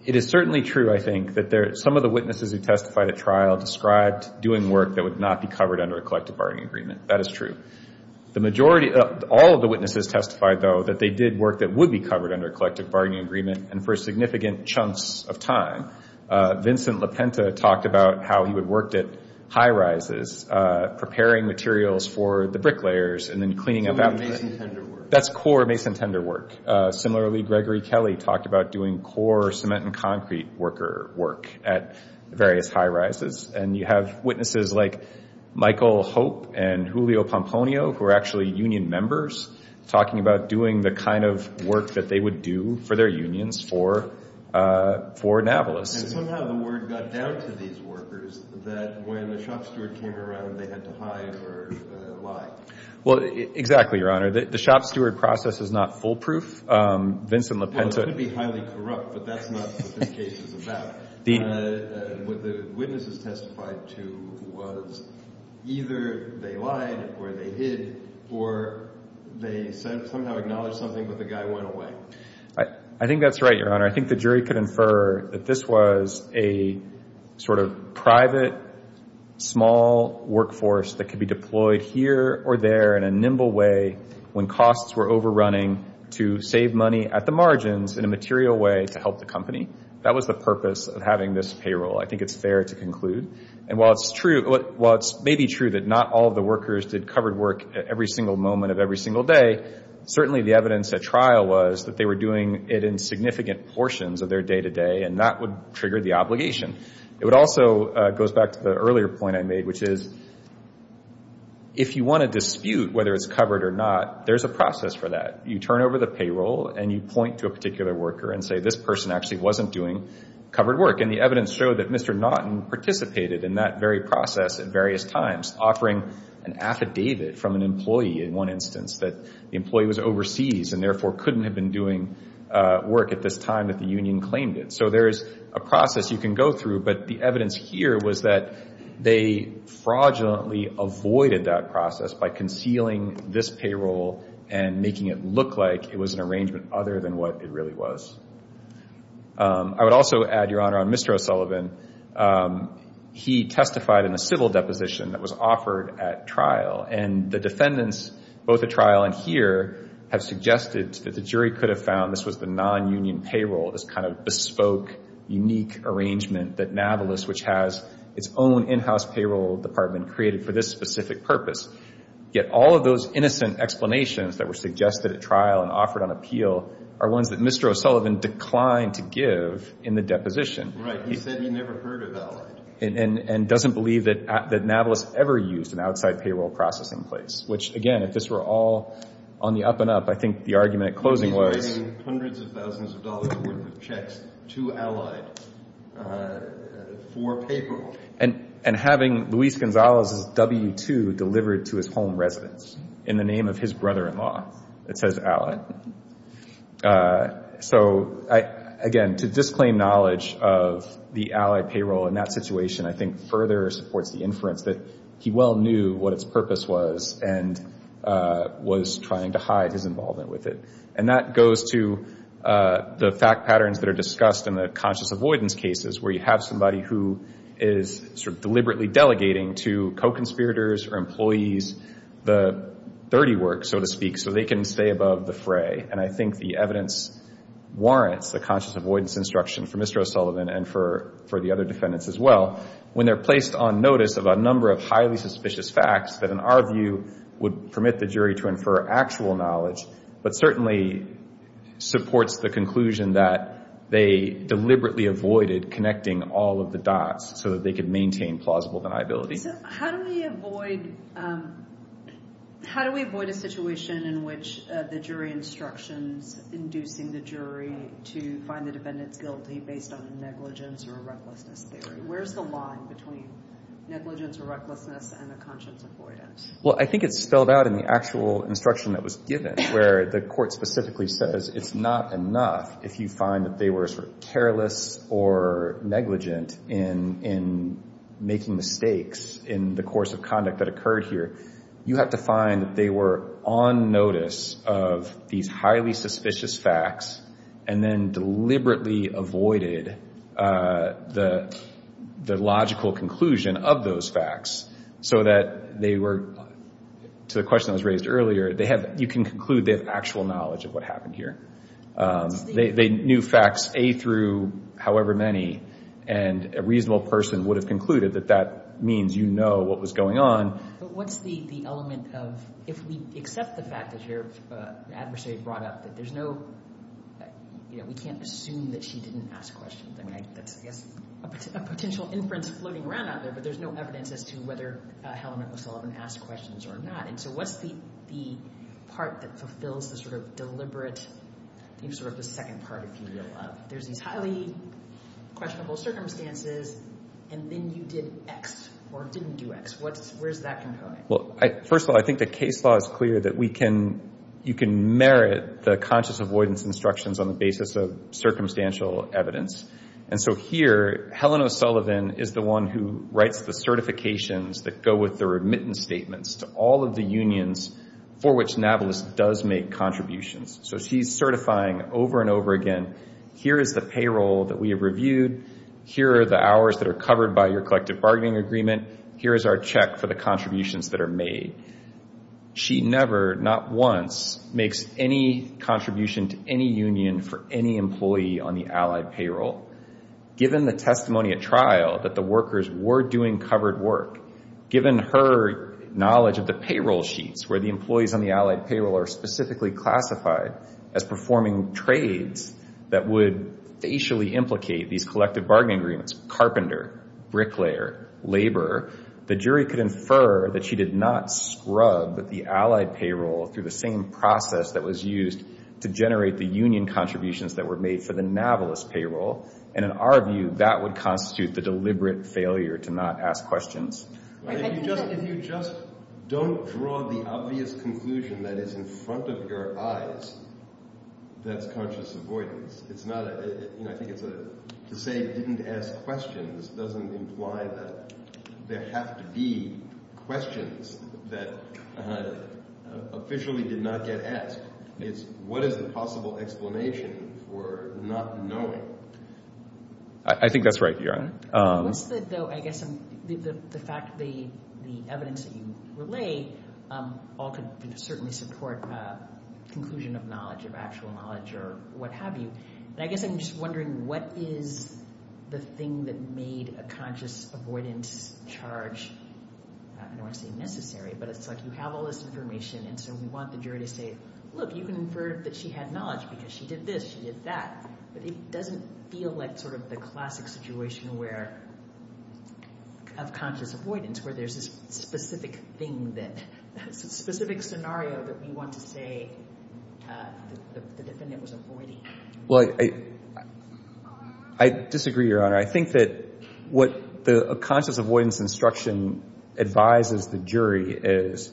It is certainly true, I think, that some of the witnesses who testified at trial described doing work that would not be covered under a collective bargaining agreement. That is true. The majority – all of the witnesses testified, though, that they did work that would be covered under a collective bargaining agreement and for significant chunks of time. Vincent LaPenta talked about how he would work at high rises, preparing materials for the bricklayers and then cleaning up after that. That's core mason tender work. Similarly, Gregory Kelly talked about doing core cement and concrete worker work at various high rises. And you have witnesses like Michael Hope and Julio Pomponio, who are actually union members, talking about doing the kind of work that they would do for their unions for Navalis. And somehow the word got down to these workers that when the shop steward came around, they had to hide or lie. Well, exactly, Your Honor. The shop steward process is not foolproof. Vincent LaPenta – Well, it could be highly corrupt, but that's not what this case is about. What the witnesses testified to was either they lied or they hid or they somehow acknowledged something, but the guy went away. I think that's right, Your Honor. I think the jury could infer that this was a sort of private, small workforce that could be deployed here or there in a nimble way when costs were overrunning to save money at the margins in a material way to help the company. That was the purpose of having this payroll. I think it's fair to conclude. And while it may be true that not all of the workers did covered work at every single moment of every single day, certainly the evidence at trial was that they were doing it in significant portions of their day-to-day, and that would trigger the obligation. It also goes back to the earlier point I made, which is if you want to dispute whether it's covered or not, there's a process for that. You turn over the payroll and you point to a particular worker and say, this person actually wasn't doing covered work. And the evidence showed that Mr. Naughton participated in that very process at various times, offering an affidavit from an employee, in one instance, that the employee was overseas and therefore couldn't have been doing work at this time that the union claimed it. So there is a process you can go through. But the evidence here was that they fraudulently avoided that process by concealing this payroll and making it look like it was an arrangement other than what it really was. I would also add, Your Honor, on Mr. O'Sullivan, he testified in a civil deposition that was offered at trial. And the defendants, both at trial and here, have suggested that the jury could have found this was the non-union payroll, this kind of bespoke, unique arrangement that Navalis, which has its own in-house payroll department, created for this specific purpose. Yet all of those innocent explanations that were suggested at trial and offered on appeal are ones that Mr. O'Sullivan declined to give in the deposition. Right. He said he never heard of that one. And doesn't believe that Navalis ever used an outside payroll processing place, which, again, if this were all on the up-and-up, I think the argument at closing was— And he's writing hundreds of thousands of dollars worth of checks to Allied for payroll. And having Luis Gonzalez's W-2 delivered to his home residence in the name of his brother-in-law. It says Allied. So, again, to disclaim knowledge of the Allied payroll in that situation, I think further supports the inference that he well knew what its purpose was and was trying to hide his involvement with it. And that goes to the fact patterns that are discussed in the conscious avoidance cases, where you have somebody who is sort of deliberately delegating to co-conspirators or employees the dirty work, so to speak, so they can stay above the fray. And I think the evidence warrants the conscious avoidance instruction for Mr. O'Sullivan and for the other defendants as well when they're placed on notice of a number of highly suspicious facts that, in our view, would permit the jury to infer actual knowledge, but certainly supports the conclusion that they deliberately avoided connecting all of the dots so that they could maintain plausible deniability. So how do we avoid a situation in which the jury instructions inducing the jury to find the defendants guilty based on negligence or recklessness theory? Where's the line between negligence or recklessness and the conscious avoidance? Well, I think it's spelled out in the actual instruction that was given, where the court specifically says it's not enough if you find that they were sort of careless or negligent in making mistakes in the course of conduct that occurred here. You have to find that they were on notice of these highly suspicious facts and then deliberately avoided the logical conclusion of those facts so that they were, to the question that was raised earlier, you can conclude they have actual knowledge of what happened here. They knew facts A through however many, and a reasonable person would have concluded that that means you know what was going on. But what's the element of if we accept the fact that your adversary brought up that there's no, you know, we can't assume that she didn't ask questions. I mean that's, I guess, a potential inference floating around out there, but there's no evidence as to whether Helen McLaughlin asked questions or not. And so what's the part that fulfills the sort of deliberate, sort of the second part, if you will, of there's these highly questionable circumstances and then you did X or didn't do X? Where's that component? Well, first of all, I think the case law is clear that we can, you can merit the conscious avoidance instructions on the basis of circumstantial evidence. And so here, Helen O'Sullivan is the one who writes the certifications that go with the remittance statements to all of the unions for which NAVALIS does make contributions. So she's certifying over and over again, here is the payroll that we have reviewed, here are the hours that are covered by your collective bargaining agreement, here is our check for the contributions that are made. She never, not once, makes any contribution to any union for any employee on the allied payroll. Given the testimony at trial that the workers were doing covered work, given her knowledge of the payroll sheets where the employees on the allied payroll are specifically classified as performing trades that would facially implicate these collective bargaining agreements, carpenter, bricklayer, laborer, the jury could infer that she did not scrub the allied payroll through the same process that was used to generate the union contributions that were made for the NAVALIS payroll. And in our view, that would constitute the deliberate failure to not ask questions. If you just don't draw the obvious conclusion that is in front of your eyes, that's conscious avoidance. I think to say didn't ask questions doesn't imply that there have to be questions that officially did not get asked. It's what is the possible explanation for not knowing? I think that's right, Your Honor. What's the, though, I guess the fact that the evidence that you relay all could certainly support conclusion of knowledge, of actual knowledge or what have you. I guess I'm just wondering what is the thing that made a conscious avoidance charge, I don't want to say necessary, but it's like you have all this information and so we want the jury to say, look, you can infer that she had knowledge because she did this, she did that. But it doesn't feel like sort of the classic situation of conscious avoidance where there's this specific scenario that we want to say the defendant was avoiding. Well, I disagree, Your Honor. I think that what the conscious avoidance instruction advises the jury is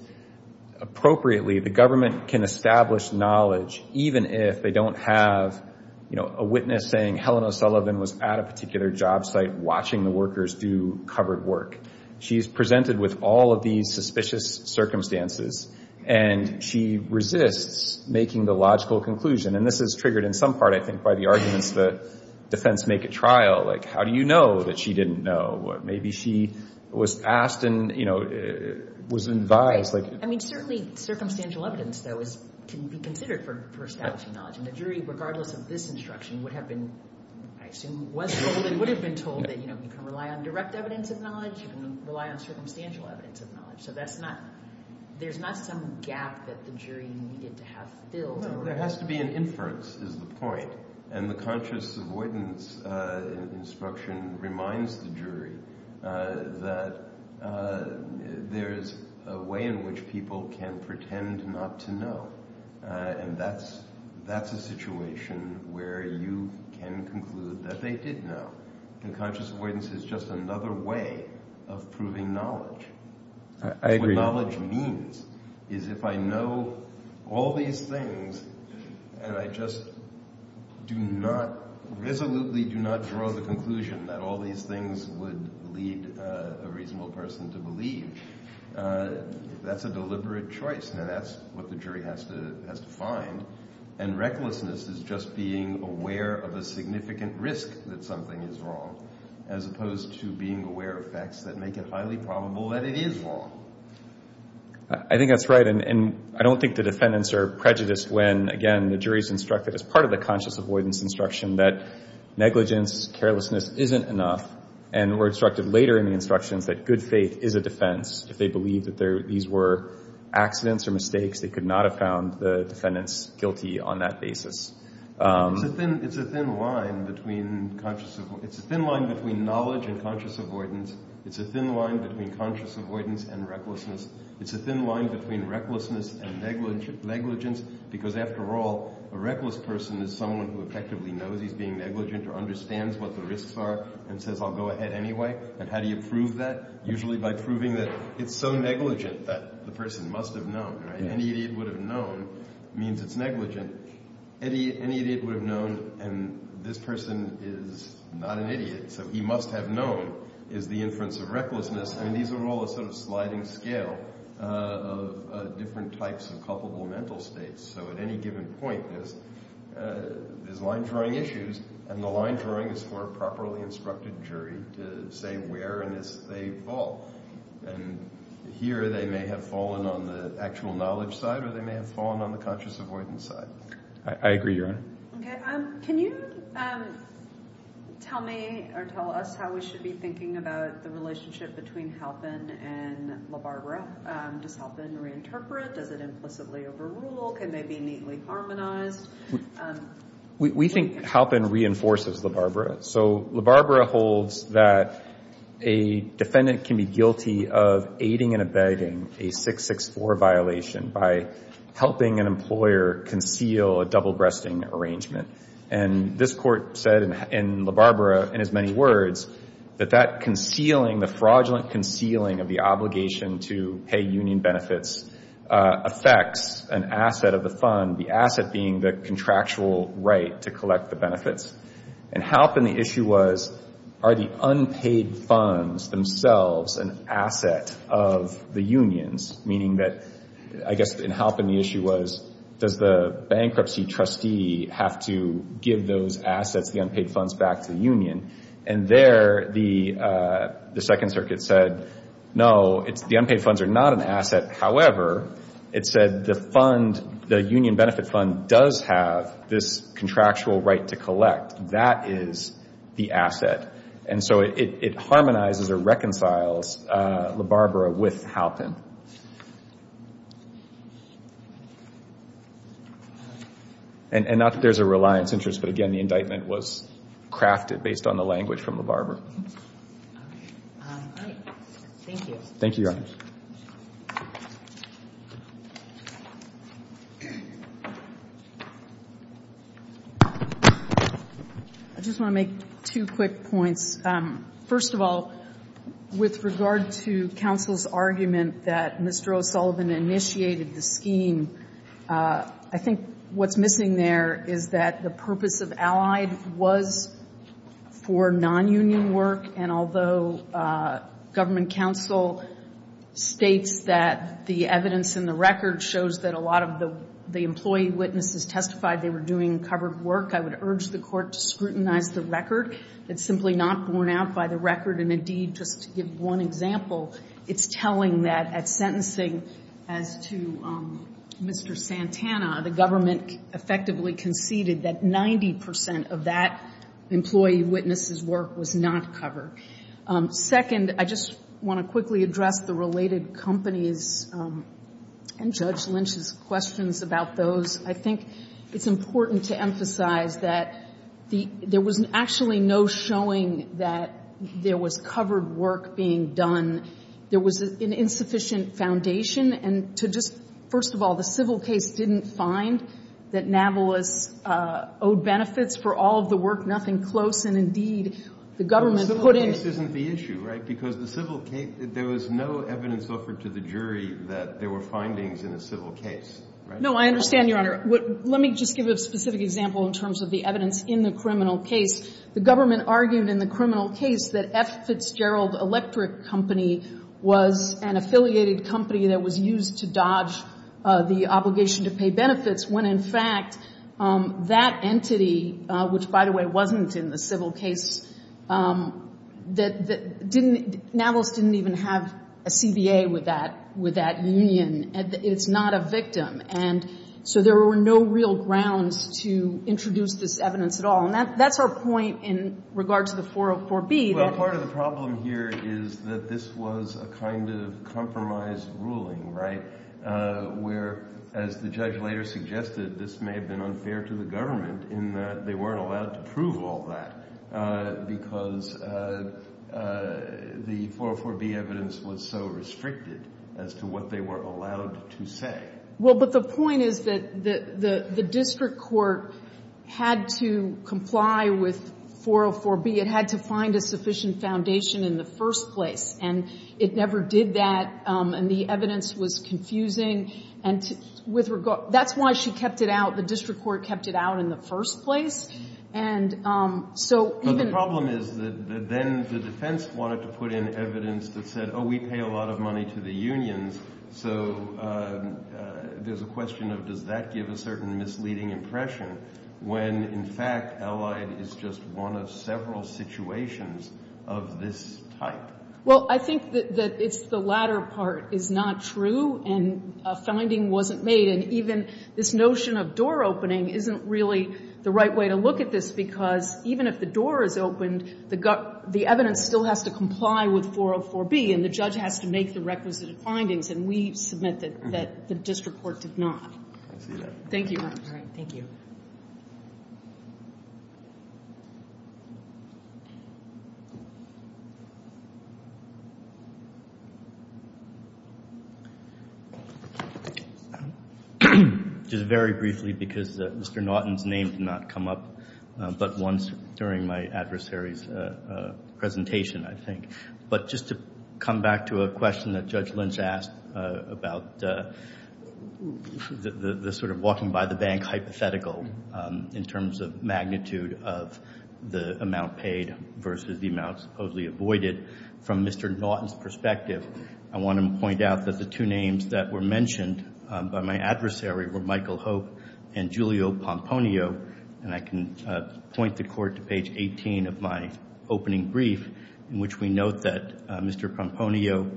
appropriately, the government can establish knowledge even if they don't have a witness saying Helena Sullivan was at a particular job site watching the workers do covered work. She's presented with all of these suspicious circumstances and she resists making the logical conclusion. And this is triggered in some part, I think, by the arguments the defense make at trial. Like, how do you know that she didn't know? Maybe she was asked and, you know, was advised. I mean, certainly circumstantial evidence, though, can be considered for establishing knowledge. And the jury, regardless of this instruction, would have been, I assume, was told Well, they would have been told that, you know, you can rely on direct evidence of knowledge. You can rely on circumstantial evidence of knowledge. So that's not, there's not some gap that the jury needed to have filled. There has to be an inference is the point. And the conscious avoidance instruction reminds the jury that there's a way in which people can pretend not to know. And that's a situation where you can conclude that they did know. And conscious avoidance is just another way of proving knowledge. I agree. What knowledge means is if I know all these things and I just do not, resolutely do not draw the conclusion that all these things would lead a reasonable person to believe, that's a deliberate choice. Now, that's what the jury has to find. And recklessness is just being aware of a significant risk that something is wrong, as opposed to being aware of facts that make it highly probable that it is wrong. I think that's right. And I don't think the defendants are prejudiced when, again, the jury is instructed as part of the conscious avoidance instruction that negligence, carelessness isn't enough. And we're instructed later in the instructions that good faith is a defense. If they believe that these were accidents or mistakes, they could not have found the defendants guilty on that basis. It's a thin line between knowledge and conscious avoidance. It's a thin line between conscious avoidance and recklessness. It's a thin line between recklessness and negligence because, after all, a reckless person is someone who effectively knows he's being negligent or understands what the risks are and says, I'll go ahead anyway. And how do you prove that? Usually by proving that it's so negligent that the person must have known. Any idiot would have known means it's negligent. Any idiot would have known, and this person is not an idiot, so he must have known is the inference of recklessness. And these are all a sort of sliding scale of different types of culpable mental states. So at any given point, there's line-drawing issues, and the line-drawing is for a properly instructed jury to say where on this they fall, and here they may have fallen on the actual knowledge side or they may have fallen on the conscious avoidance side. I agree, Your Honor. Okay. Can you tell me or tell us how we should be thinking about the relationship between Halpin and LaBarbera? Does Halpin reinterpret? Does it implicitly overrule? Can they be neatly harmonized? We think Halpin reinforces LaBarbera. So LaBarbera holds that a defendant can be guilty of aiding and abetting a 664 violation by helping an employer conceal a double-breasting arrangement. And this court said in LaBarbera, in as many words, that that concealing, the fraudulent concealing of the obligation to pay union benefits, affects an asset of the fund, the asset being the contractual right to collect the benefits. And Halpin, the issue was, are the unpaid funds themselves an asset of the unions? Meaning that, I guess in Halpin the issue was, does the bankruptcy trustee have to give those assets, the unpaid funds, back to the union? And there the Second Circuit said, no, the unpaid funds are not an asset. However, it said the fund, the union benefit fund, does have this contractual right to collect. That is the asset. And so it harmonizes or reconciles LaBarbera with Halpin. And not that there's a reliance interest, but again, the indictment was crafted based on the language from LaBarbera. All right. Thank you. Thank you, Your Honors. I just want to make two quick points. First of all, with regard to counsel's argument that Mr. O'Sullivan initiated the scheme, I think what's missing there is that the purpose of Allied was for non-union work, and although government counsel states that the evidence in the record shows that a lot of the employee witnesses testified they were doing covered work, I would urge the Court to scrutinize the record. It's simply not borne out by the record. And indeed, just to give one example, it's telling that at sentencing as to Mr. Santana, the government effectively conceded that 90% of that employee witness's work was not covered. Second, I just want to quickly address the related companies and Judge Lynch's questions about those. I think it's important to emphasize that there was actually no showing that there was covered work being done. There was an insufficient foundation. And to just – first of all, the civil case didn't find that Navalis owed benefits for all of the work, nothing close. And indeed, the government put in – The civil case isn't the issue, right? Because the civil case – there was no evidence offered to the jury that there were findings in a civil case, right? No, I understand, Your Honor. Let me just give a specific example in terms of the evidence in the criminal case. The government argued in the criminal case that F. Fitzgerald Electric Company was an affiliated company that was used to dodge the obligation to pay benefits when, in fact, that entity, which, by the way, wasn't in the civil case, didn't – Navalis didn't even have a CBA with that union. It's not a victim. And so there were no real grounds to introduce this evidence at all. And that's our point in regard to the 404B. Well, part of the problem here is that this was a kind of compromise ruling, right, where, as the judge later suggested, this may have been unfair to the government in that they weren't allowed to prove all that because the 404B evidence was so restricted as to what they were allowed to say. Well, but the point is that the district court had to comply with 404B. It had to find a sufficient foundation in the first place. And it never did that. And the evidence was confusing. And with regard – that's why she kept it out. The district court kept it out in the first place. And so even – But the problem is that then the defense wanted to put in evidence that said, oh, we pay a lot of money to the unions. So there's a question of does that give a certain misleading impression when, in fact, Allied is just one of several situations of this type? Well, I think that it's – the latter part is not true and a finding wasn't made. And even this notion of door opening isn't really the right way to look at this because even if the door is opened, the evidence still has to comply with 404B and the judge has to make the requisite findings. And we submit that the district court did not. I see that. Thank you. All right. Thank you. Just very briefly because Mr. Naughton's name did not come up but once during my adversary's presentation, I think. But just to come back to a question that Judge Lynch asked about the sort of walking-by-the-bank hypothetical in terms of magnitude of the amount paid versus the amount supposedly avoided, from Mr. Naughton's perspective, I want to point out that the two names that were mentioned by my adversary were Michael Hope and Julio Pomponio. And I can point the court to page 18 of my opening brief in which we note that Mr. Pomponio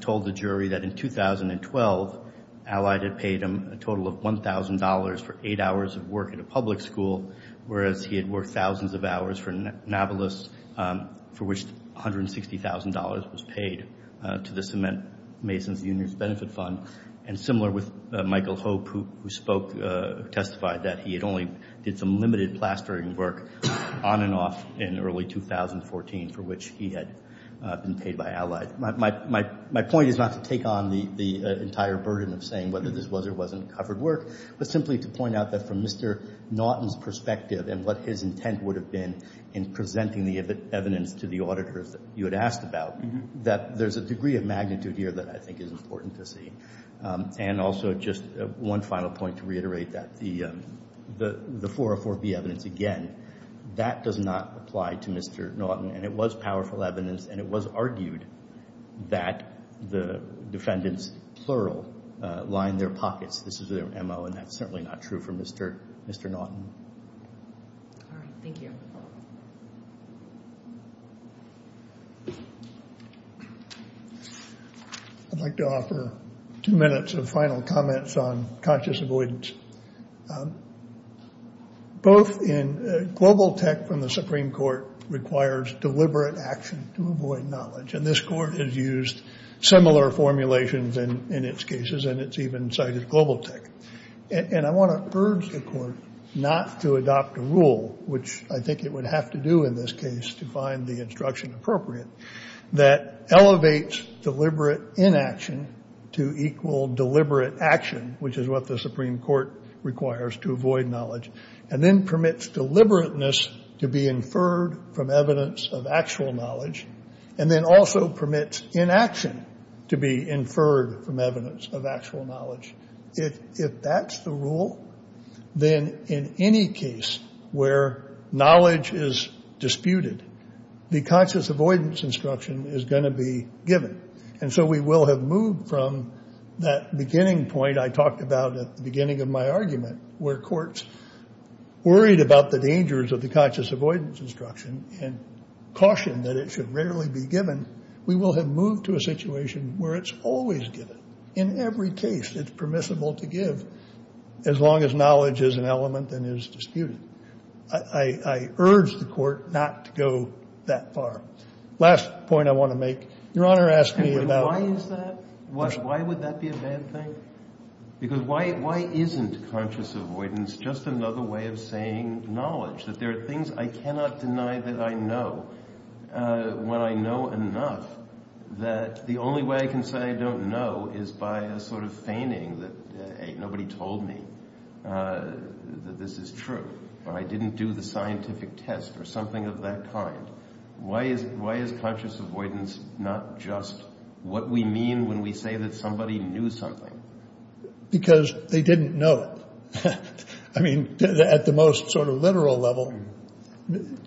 told the jury that in 2012, Allied had paid him a total of $1,000 for eight hours of work at a public school, whereas he had worked thousands of hours for Nablus for which $160,000 was paid to the cement mason's union's benefit fund. And similar with Michael Hope who testified that he had only did some limited plastering work on and off in early 2014 for which he had been paid by Allied. My point is not to take on the entire burden of saying whether this was or wasn't covered work, but simply to point out that from Mr. Naughton's perspective and what his intent would have been in presenting the evidence to the auditors that you had asked about, that there's a degree of magnitude here that I think is important to see. And also just one final point to reiterate that the 404B evidence, again, that does not apply to Mr. Naughton and it was powerful evidence and it was argued that the defendants, plural, lined their pockets. This is their M.O. and that's certainly not true for Mr. Naughton. All right, thank you. I'd like to offer two minutes of final comments on conscious avoidance. Both in global tech from the Supreme Court requires deliberate action to avoid knowledge and this court has used similar formulations in its cases and it's even cited global tech. And I want to urge the court not to adopt a rule, which I think it would have to do in this case to find the instruction appropriate, that elevates deliberate inaction to equal deliberate action, which is what the Supreme Court requires to avoid knowledge, and then permits deliberateness to be inferred from evidence of actual knowledge and then also permits inaction to be inferred from evidence of actual knowledge. If that's the rule, then in any case where knowledge is disputed, the conscious avoidance instruction is going to be given. And so we will have moved from that beginning point I talked about at the beginning of my argument where courts worried about the dangers of the conscious avoidance instruction and cautioned that it should rarely be given. We will have moved to a situation where it's always given. In every case it's permissible to give as long as knowledge is an element and is disputed. I urge the court not to go that far. Last point I want to make. Your Honor asked me about... Why is that? Why would that be a bad thing? Because why isn't conscious avoidance just another way of saying knowledge? That there are things I cannot deny that I know when I know enough that the only way I can say I don't know is by a sort of feigning that nobody told me that this is true. I didn't do the scientific test or something of that kind. Why is conscious avoidance not just what we mean when we say that somebody knew something? Because they didn't know it. I mean, at the most sort of literal level,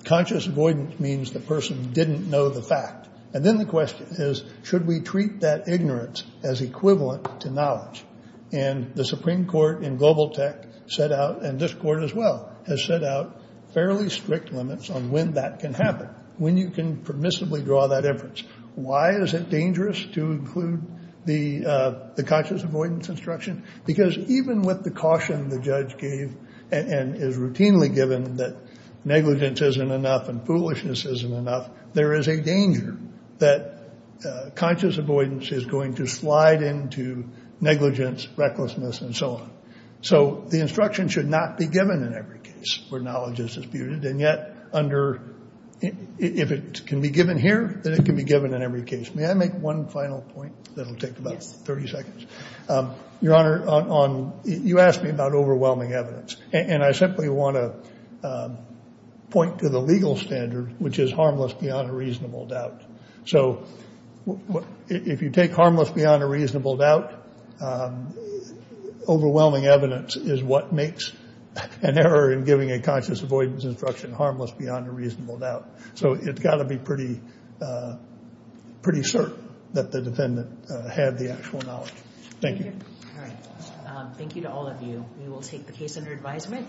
conscious avoidance means the person didn't know the fact. And then the question is, should we treat that ignorance as equivalent to knowledge? And the Supreme Court in global tech set out, and this court as well, has set out fairly strict limits on when that can happen, when you can permissibly draw that inference. Why is it dangerous to include the conscious avoidance instruction? Because even with the caution the judge gave and is routinely given that negligence isn't enough and foolishness isn't enough, there is a danger that conscious avoidance is going to slide into negligence, recklessness, and so on. So the instruction should not be given in every case where knowledge is disputed. And yet, if it can be given here, then it can be given in every case. May I make one final point that will take about 30 seconds? Your Honor, you asked me about overwhelming evidence. And I simply want to point to the legal standard, which is harmless beyond a reasonable doubt. So if you take harmless beyond a reasonable doubt, overwhelming evidence is what makes an error in giving a conscious avoidance instruction harmless beyond a reasonable doubt. So it's got to be pretty certain that the defendant had the actual knowledge. Thank you. Thank you to all of you. We will take the case under advisement.